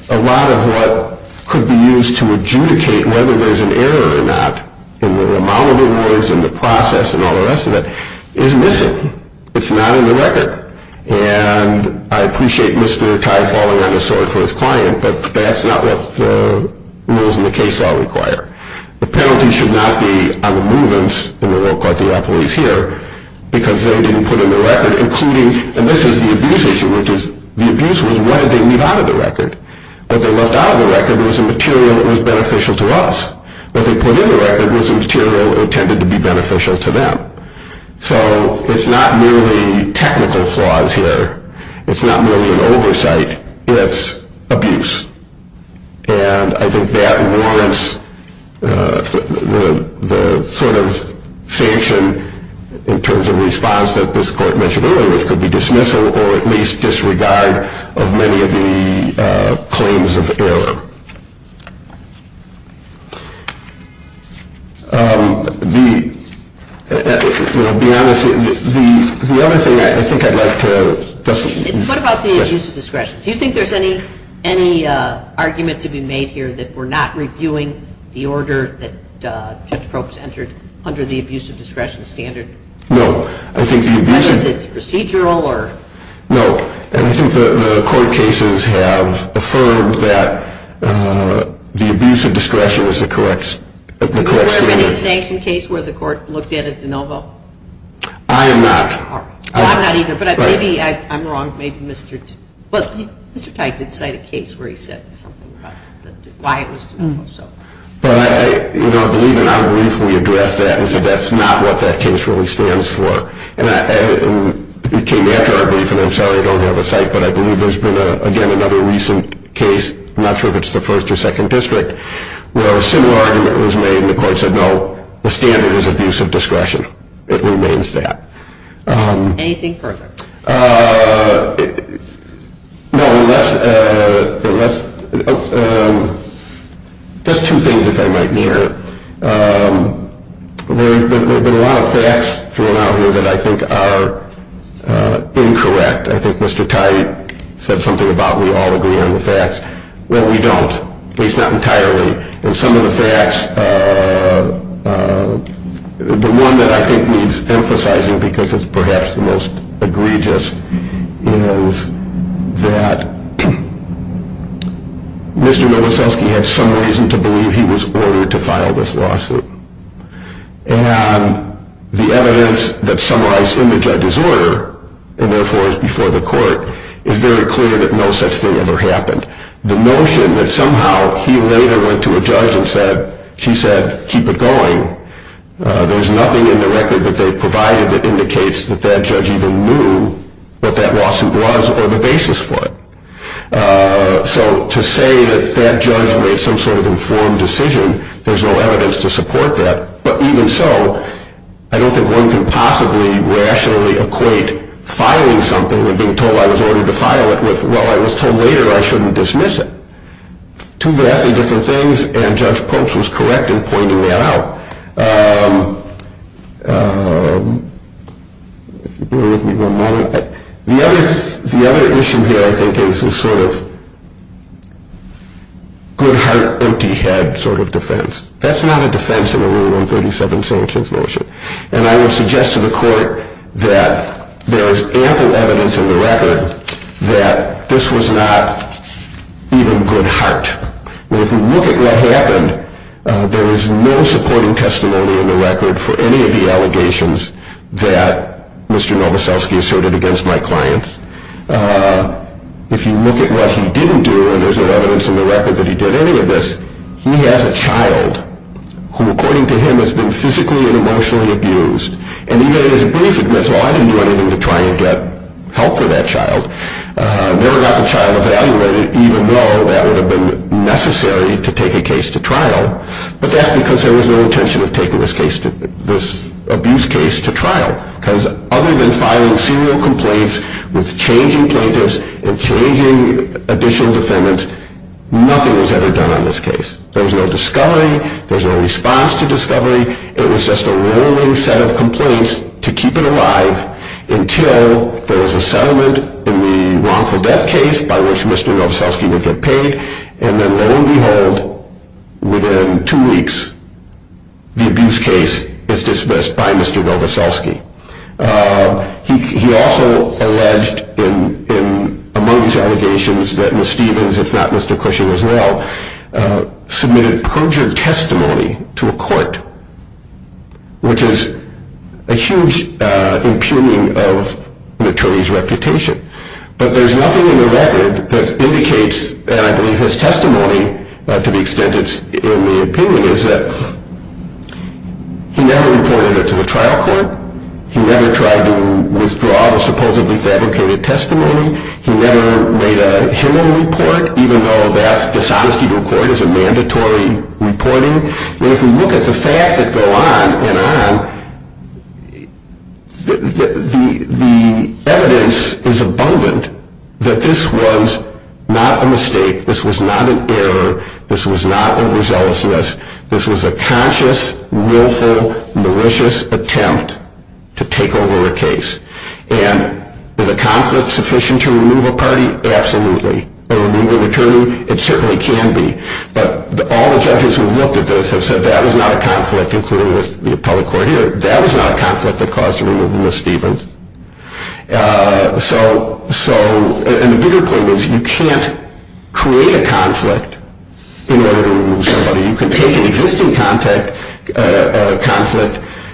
a lot of what could be used to adjudicate whether there's an error or not, the amount of rewards and the process and all the rest of it, is missing. It's not in the record. And I appreciate Mr. Tiefel and his client, but that's not what the rules in the case law require. The penalty should not be on the movements in the work by the authorities here, because they didn't put in the record, including, and this is the abuse issue, which is, the abuse was what did they leave out of the record? What they left out of the record was the material that was beneficial to us. What they put in the record was the material that was intended to be beneficial to them. So it's not merely technical flaws here. It's not merely an oversight. It's abuse. And I think that warrants the sort of sanction in terms of response that this court mentioned earlier, which could be dismissal or at least disregard of many of the claims of error. To be honest, the other thing I think I'd like to discuss is... What about the abuse of discretion? Do you think there's any argument to be made here that we're not reviewing the order that Judge Probst entered under the abuse of discretion standard? No. I think the abuse of... Is it procedural? No. And I think the court cases have affirmed that the abuse of discretion is the correct standard. Was there a medication case where the court looked at a de novo? I am not. I'm not either, but maybe I'm wrong. Maybe Mr. Tyson cited a case where he said something about why it was so. I believe and I briefly addressed that. That's not what that case really stands for. It came after our briefing. I'm sorry, I don't have a cite, but I believe there's been, again, another recent case. I'm not sure if it's the first or second district where a similar argument was made. The court said, no, the standard is abuse of discretion. It remains that. Anything further? Just two things, if I might, Mayor. There have been a lot of facts thrown out here that I think are incorrect. I think Mr. Tye said something about we all agree on the facts. Well, we don't, at least not entirely. And some of the facts, the one that I think needs emphasizing, because it's perhaps the most egregious, is that Mr. Milosevsky had some reason to believe he was ordered to file this lawsuit. And the evidence that summarized in the judge's order, in those words before the court, is very clear that no such thing ever happened. The notion that somehow he later went to a judge and said, she said, keep it going, there's nothing in the record that they've provided that indicates that that judge even knew what that lawsuit was or the basis for it. So to say that that judge made some sort of informed decision, there's no evidence to support that. But even so, I don't think one can possibly rationally equate filing something and being told I was ordered to file it with, well, I was told later I shouldn't dismiss it. Two radically different things, and Judge Popes was correct in pointing that out. The other issue here, I think, is a sort of good heart, empty head sort of defense. That's not a defense of the Rule 137 Sanctions Lawsuit. And I would suggest to the court that there is ample evidence in the record that this was not even good heart. If you look at what happened, there is no supporting testimony in the record for any of the allegations that Mr. Nowoszewski asserted against my client. If you look at what he didn't do, and there's no evidence in the record that he did any of this, he has a child who, according to him, has been physically and emotionally abused. And he made his brief, and that's why he went in to try and get help for that child. Never got the child evaluated, even though that would have been necessary to take a case to trial. But that's because there was no intention of taking this abuse case to trial. Because other than filing serial complaints with changing plaintiffs and changing additional defendants, nothing was ever done on this case. Basically, it was just a rolling set of complaints to keep it alive until there was a settlement in the wrongful death case by which Mr. Nowoszewski would get paid. And then, lo and behold, within two weeks, the abuse case is dismissed by Mr. Nowoszewski. He also alleged, among his allegations, that Ms. Stevens, if not Mr. Cushing as well, submitted perjured testimony to a court, which is a huge impugning of an attorney's reputation. But there's nothing in the record that indicates that his testimony, to the extent it's in the opinion, is that he never reported it to the trial court. He never tried to withdraw the supposedly fabricated testimony. He never made a human report, even though that dishonesty report is a mandatory reporting. But if you look at the fact that go on and on, the evidence is abundant that this was not a mistake. This was not an error. This was not a results list. This was a conscious, willful, malicious attempt to take over a case. And is a conflict sufficient to remove a party? Absolutely. A removal of an attorney? It certainly can be. But all the judges who have looked at this have said that is not a conflict, including the public court here. That is not a conflict that caused the removal of Ms. Stevens. And the bigger point is you can't create a conflict in order to remove somebody. You can take an existing conflict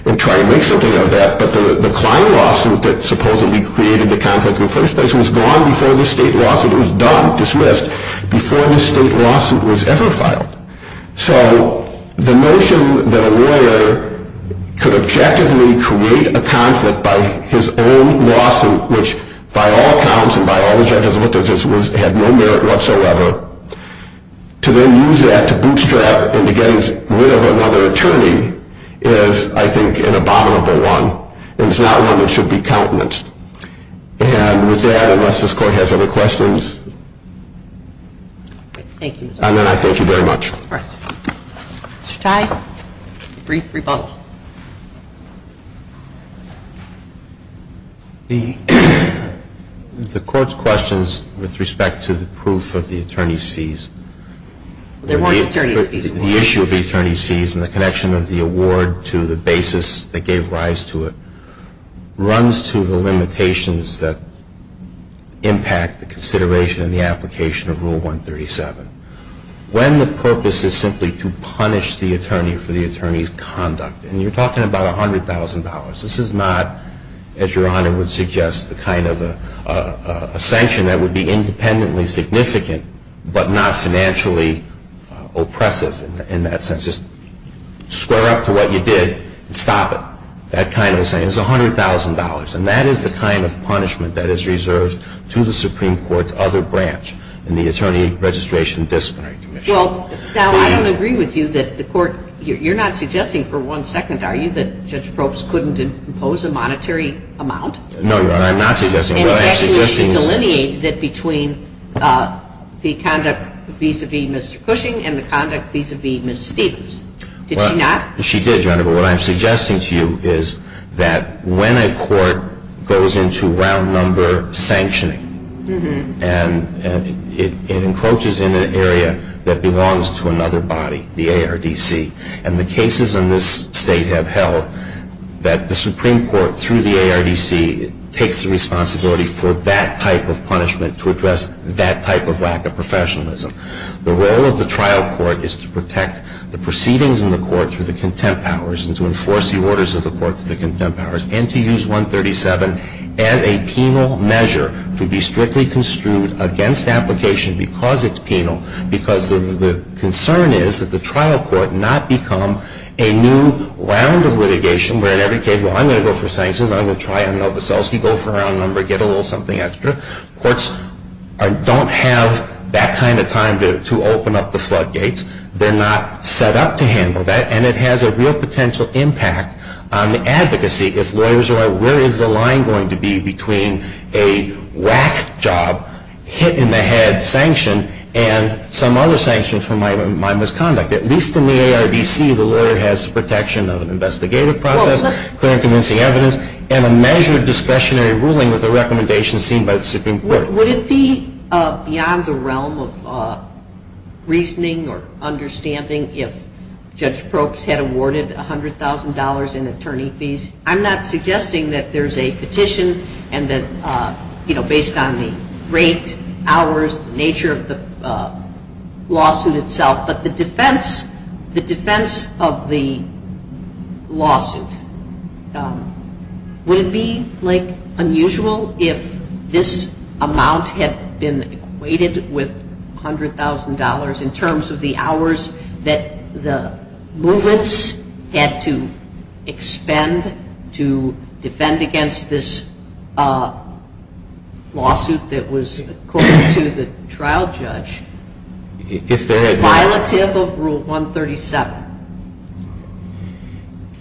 and try to make something of that. But the client lawsuit that supposedly created the conflict in the first place was gone before the state lawsuit. It was done, dismissed, before the state lawsuit was ever filed. So the notion that a lawyer could objectively create a conflict by his own lawsuit, which by all accounts and by all judges who have looked at this, had no merit whatsoever, to then use that to bootstrap and to get rid of another attorney is, I think, an abominable one. And it's not one that should be countenanced. And with that, unless this court has other questions. Thank you. Thank you very much. Mr. Tide? Brief rebuttal. The court's questions with respect to the proof of the attorney's fees, the issue of the attorney's fees and the connection of the award to the basis that gave rise to it, runs to the limitations that impact the consideration and the application of Rule 137. When the purpose is simply to punish the attorney for the attorney's conduct, and you're talking about $100,000. This is not, as Your Honor would suggest, the kind of a sanction that would be independently significant but not financially oppressive. In that sense, just square up to what you did and stop it. That kind of a thing. It's $100,000. And that is the kind of punishment that is reserved to the Supreme Court's other branch in the Attorney Registration and Disciplinary Commission. Well, Sal, I don't agree with you that the court, you're not suggesting for one second, are you, that Judge Probst couldn't impose a monetary amount? No, Your Honor, I'm not suggesting that. And actually, she delineated that between the conduct vis-à-vis Mr. Cushing and the conduct vis-à-vis Mr. Davis. Did she not? She did, Your Honor. But what I'm suggesting to you is that when a court goes into round number sanctioning and it encroaches in an area that belongs to another body, the ARDC, and the cases in this state have held that the Supreme Court, through the ARDC, takes the responsibility for that type of punishment to address that type of lack of professionalism. The role of the trial court is to protect the proceedings in the court to the contempt powers and to enforce the orders of the court to the contempt powers and to use 137 as a penal measure to be strictly construed against application because it's penal, because the concern is that the trial court not become a new round of litigation where in every case, well, I'm going to go for sanctions, I'm going to try and let Veselsky go for round number, get a little something extra. Courts don't have that kind of time to open up the floodgates. They're not set up to handle that, and it has a real potential impact on the advocacy if lawyers are, where is the line going to be between a whack job, hit in the head sanction, and some other sanctions for my misconduct? At least in the ARDC, the lawyer has protection of an investigative process, current convincing evidence, and a measured discretionary ruling with a recommendation seen by the Supreme Court. Would it be beyond the realm of reasoning or understanding if Judge Probst had awarded $100,000 in attorney fees? I'm not suggesting that there's a petition and that, you know, based on the rate, hours, the nature of the lawsuit itself, but the defense, the defense of the lawsuit, would it be, like, unusual if this amount had been equated with $100,000 in terms of the hours that the movements had to expend to defend against this lawsuit that was according to the trial judge, violative of Rule 137?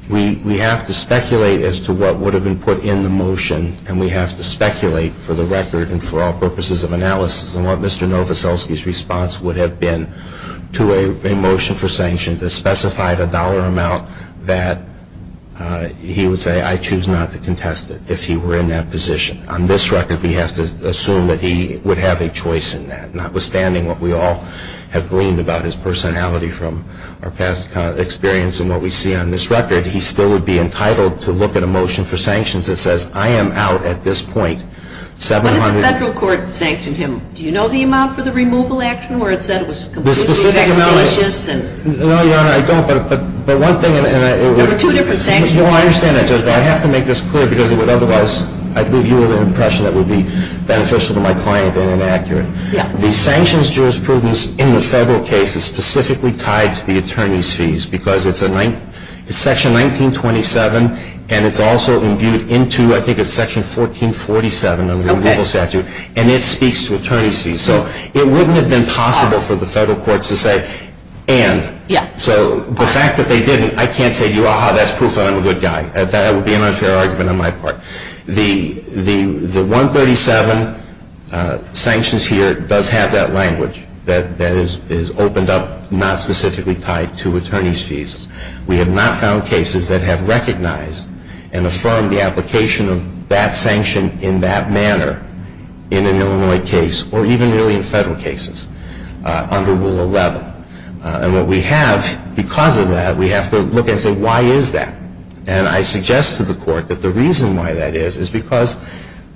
We have to speculate as to what would have been put in the motion, and we have to speculate for the record and for all purposes of analysis on what Mr. Novoselsky's response would have been to a motion for sanction that specified a dollar amount that he would say, I choose not to contest it if he were in that position. On this record, we have to assume that he would have a choice in that, notwithstanding what we all have gleaned about his personality from our past experience and what we see on this record, he still would be entitled to look at a motion for sanctions that says, I am out at this point $700,000. What if the federal court sanctioned him? Do you know the amount for the removal action where it said it was completely unambitious? No, Your Honor, I don't, but one thing, and I have to make this clear, because otherwise I'd give you an impression that would be beneficial to my client and inaccurate. The sanctions jurisprudence in the federal case is specifically tied to the attorney's fees, because it's Section 1927, and it's also imbued into, I think it's Section 1447 on the removal statute, and it speaks to attorney's fees. So it wouldn't have been possible for the federal courts to say, and. So the fact that they didn't, I can't say, aha, that's proof that I'm a good guy. That would be an unfair argument on my part. The 137 sanctions here does have that language that is opened up, not specifically tied to attorney's fees. We have not found cases that have recognized and affirmed the application of that sanction in that manner in an Illinois case or even really in federal cases under Rule 11. And what we have, because of that, we have to look and say, why is that? And I suggest to the court that the reason why that is is because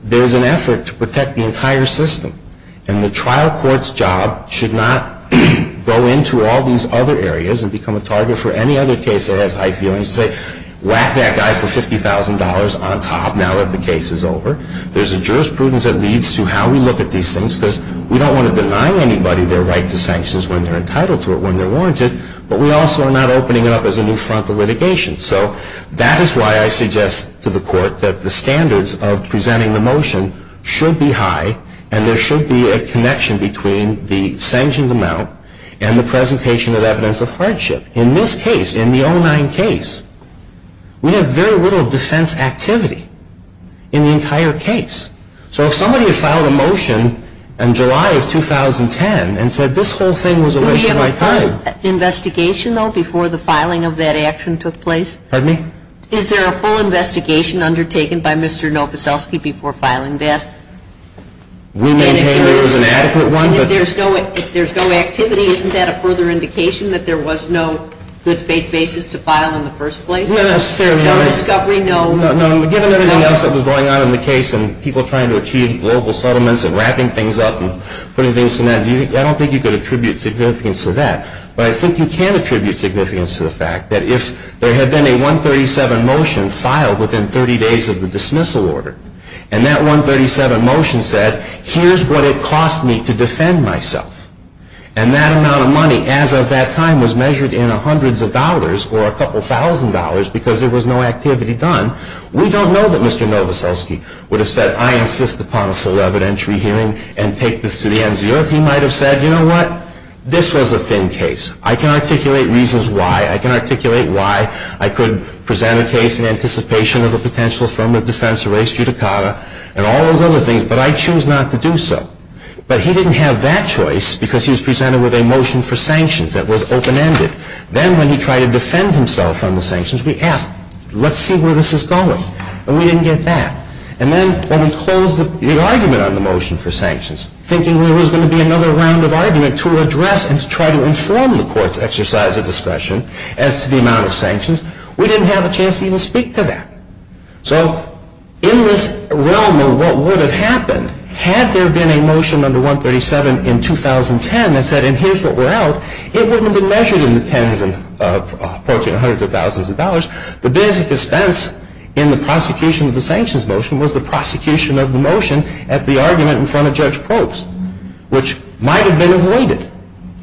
there's an effort to protect the entire system, and the trial court's job should not go into all these other areas and become a target for any other case that has high feelings and say, whack that guy for $50,000 on top, now that the case is over. There's a jurisprudence that leads to how we look at these things, because we don't want to deny anybody their right to sanctions when they're entitled to it, when they're warranted, but we also are not opening it up as a new front for litigation. So that is why I suggest to the court that the standards of presenting the motion should be high, and there should be a connection between the sanctions amount and the presentation of evidence of friendship. In this case, in the 09 case, we have very little defense activity in the entire case. So if somebody filed a motion in July of 2010 and said this whole thing was a waste of my time... Pardon me? Is there a full investigation undertaken by Mr. Novoselsky before filing this? We maintain there is an adequate one, but... If there's no activity, isn't that a further indication that there was no good basis to file in the first place? No, that's fairly honest. No discovery, no... No, given everything else that was going on in the case, and people trying to achieve global settlements and racking things up and putting things to an end, I don't think you could attribute significance to that. But I think you can attribute significance to the fact that if there had been a 137 motion filed within 30 days of the dismissal order, and that 137 motion said, here's what it cost me to defend myself, and that amount of money, as of that time, was measured in hundreds of dollars or a couple thousand dollars because there was no activity done, we don't know that Mr. Novoselsky would have said, I insist upon a full evidentiary hearing and take this to the NCO. He might have said, you know what? This was a thin case. I can articulate reasons why. I can articulate why I could present a case in anticipation of a potential form of defense, a race judicata, and all those other things, but I choose not to do so. But he didn't have that choice because he was presented with a motion for sanctions that was open-ended. Then when he tried to defend himself from the sanctions, we asked, let's see where this is going. And we didn't get that. And then when we closed the argument on the motion for sanctions, thinking there was going to be another round of argument to address and to try to inform the court's exercise of discussion as to the amount of sanctions, we didn't have a chance to even speak to that. So in this realm of what would have happened, had there been a motion under 137 in 2010 that said, and here's what we're out, it wouldn't have been measured in the hundreds of thousands of dollars. The biggest expense in the prosecution of the sanctions motion was the prosecution of the motion at the argument in front of Judge Probst, which might have been avoided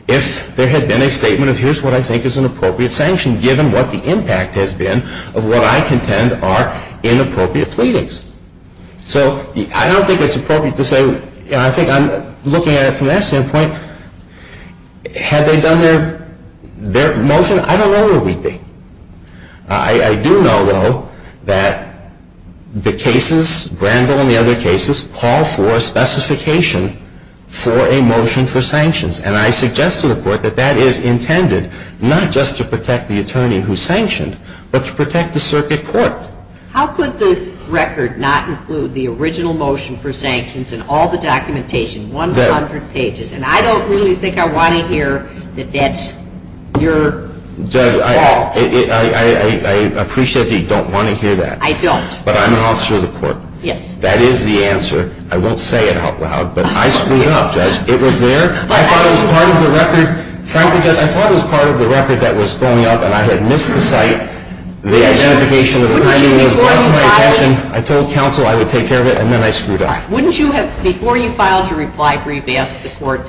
if there had been a statement of here's what I think is an appropriate sanction, given what the impact has been of what I contend are inappropriate pleadings. So I don't think it's appropriate to say, and I think I'm looking at it from that standpoint, had they done their motion, I don't know where we'd be. I do know, though, that the cases, Brandel and the other cases, call for a specification for a motion for sanctions. And I suggest to the court that that is intended not just to protect the attorney who sanctioned, but to protect the circuit court. Yes. Judge, I appreciate you don't want to hear that. I don't. But I'm an officer of the court. Yes. That is the answer. I won't say it out loud, but I screwed up. It was there. I thought it was part of the record. Frankly, I thought it was part of the record that was thrown out, and I had missed the site. The identification of the attorney was right in my attention. I told counsel I would take care of it, and then I screwed up. Before you filed your reply brief, ask the court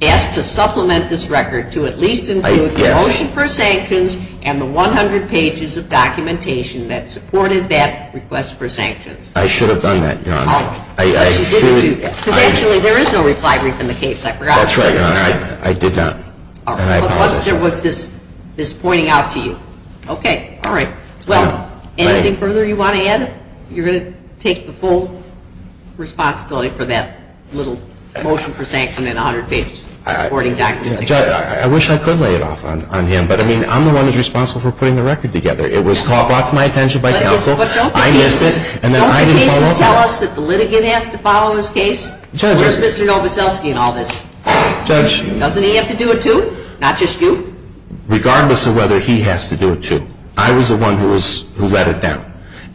to supplement this record to at least include the motion for sanctions and the 100 pages of documentation that supported that request for sanctions. I should have done that, Your Honor. Actually, there is no reply brief in the case. I forgot. That's right, Your Honor. I did not. There was this pointing out to you. Okay. All right. Anything further you want to add? You're going to take the full responsibility for that little motion for sanctions and 100 pages of recording documentation. Judge, I wish I could lay it off on him, but I mean I'm the one who's responsible for putting the record together. It was caught off my attention by counsel. I missed it, and then I didn't follow up. Don't you need to tell us that the litigant has to follow his case? Where's Mr. Novoselsky in all this? Judge. Doesn't he have to do it, too? Not just you? Regardless of whether he has to do it, too. I was the one who led it down.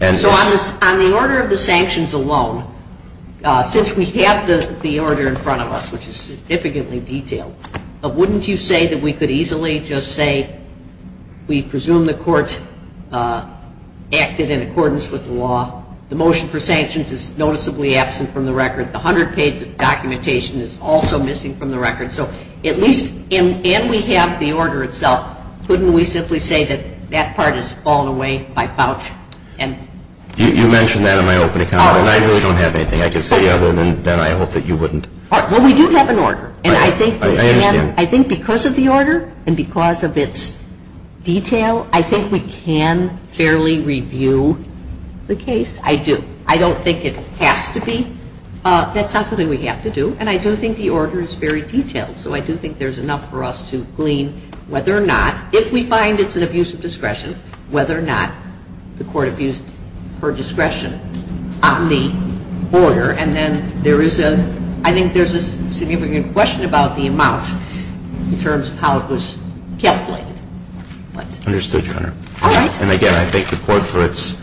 On the order of the sanctions alone, since we have the order in front of us, which is significantly detailed, wouldn't you say that we could easily just say we presume the court acted in accordance with the law, the motion for sanctions is noticeably absent from the record, the 100 pages of documentation is also missing from the record, so at least, and we have the order itself, wouldn't we simply say that that part is fallen away by clout? You mentioned that in my opening comment. I really don't have anything I can say other than I hope that you wouldn't. Well, we do have an order, and I think because of the order and because of its detail, I think we can fairly review the case. I do. I don't think it has to be. That's not something we have to do, and I do think the order is very detailed, so I do think there's enough for us to glean whether or not, if we find it's an abuse of discretion, whether or not the court abused her discretion on the order, and then I think there's a significant question about the amount in terms of how it was calculated. Understood, Your Honor. All right. And, again, I thank the court for its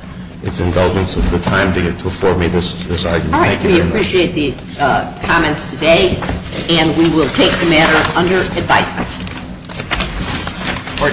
indulgence in the time that you're performing this argument. All right. We appreciate the comments today, and we will take the matter under advice. Court is adjourned. Adjourned.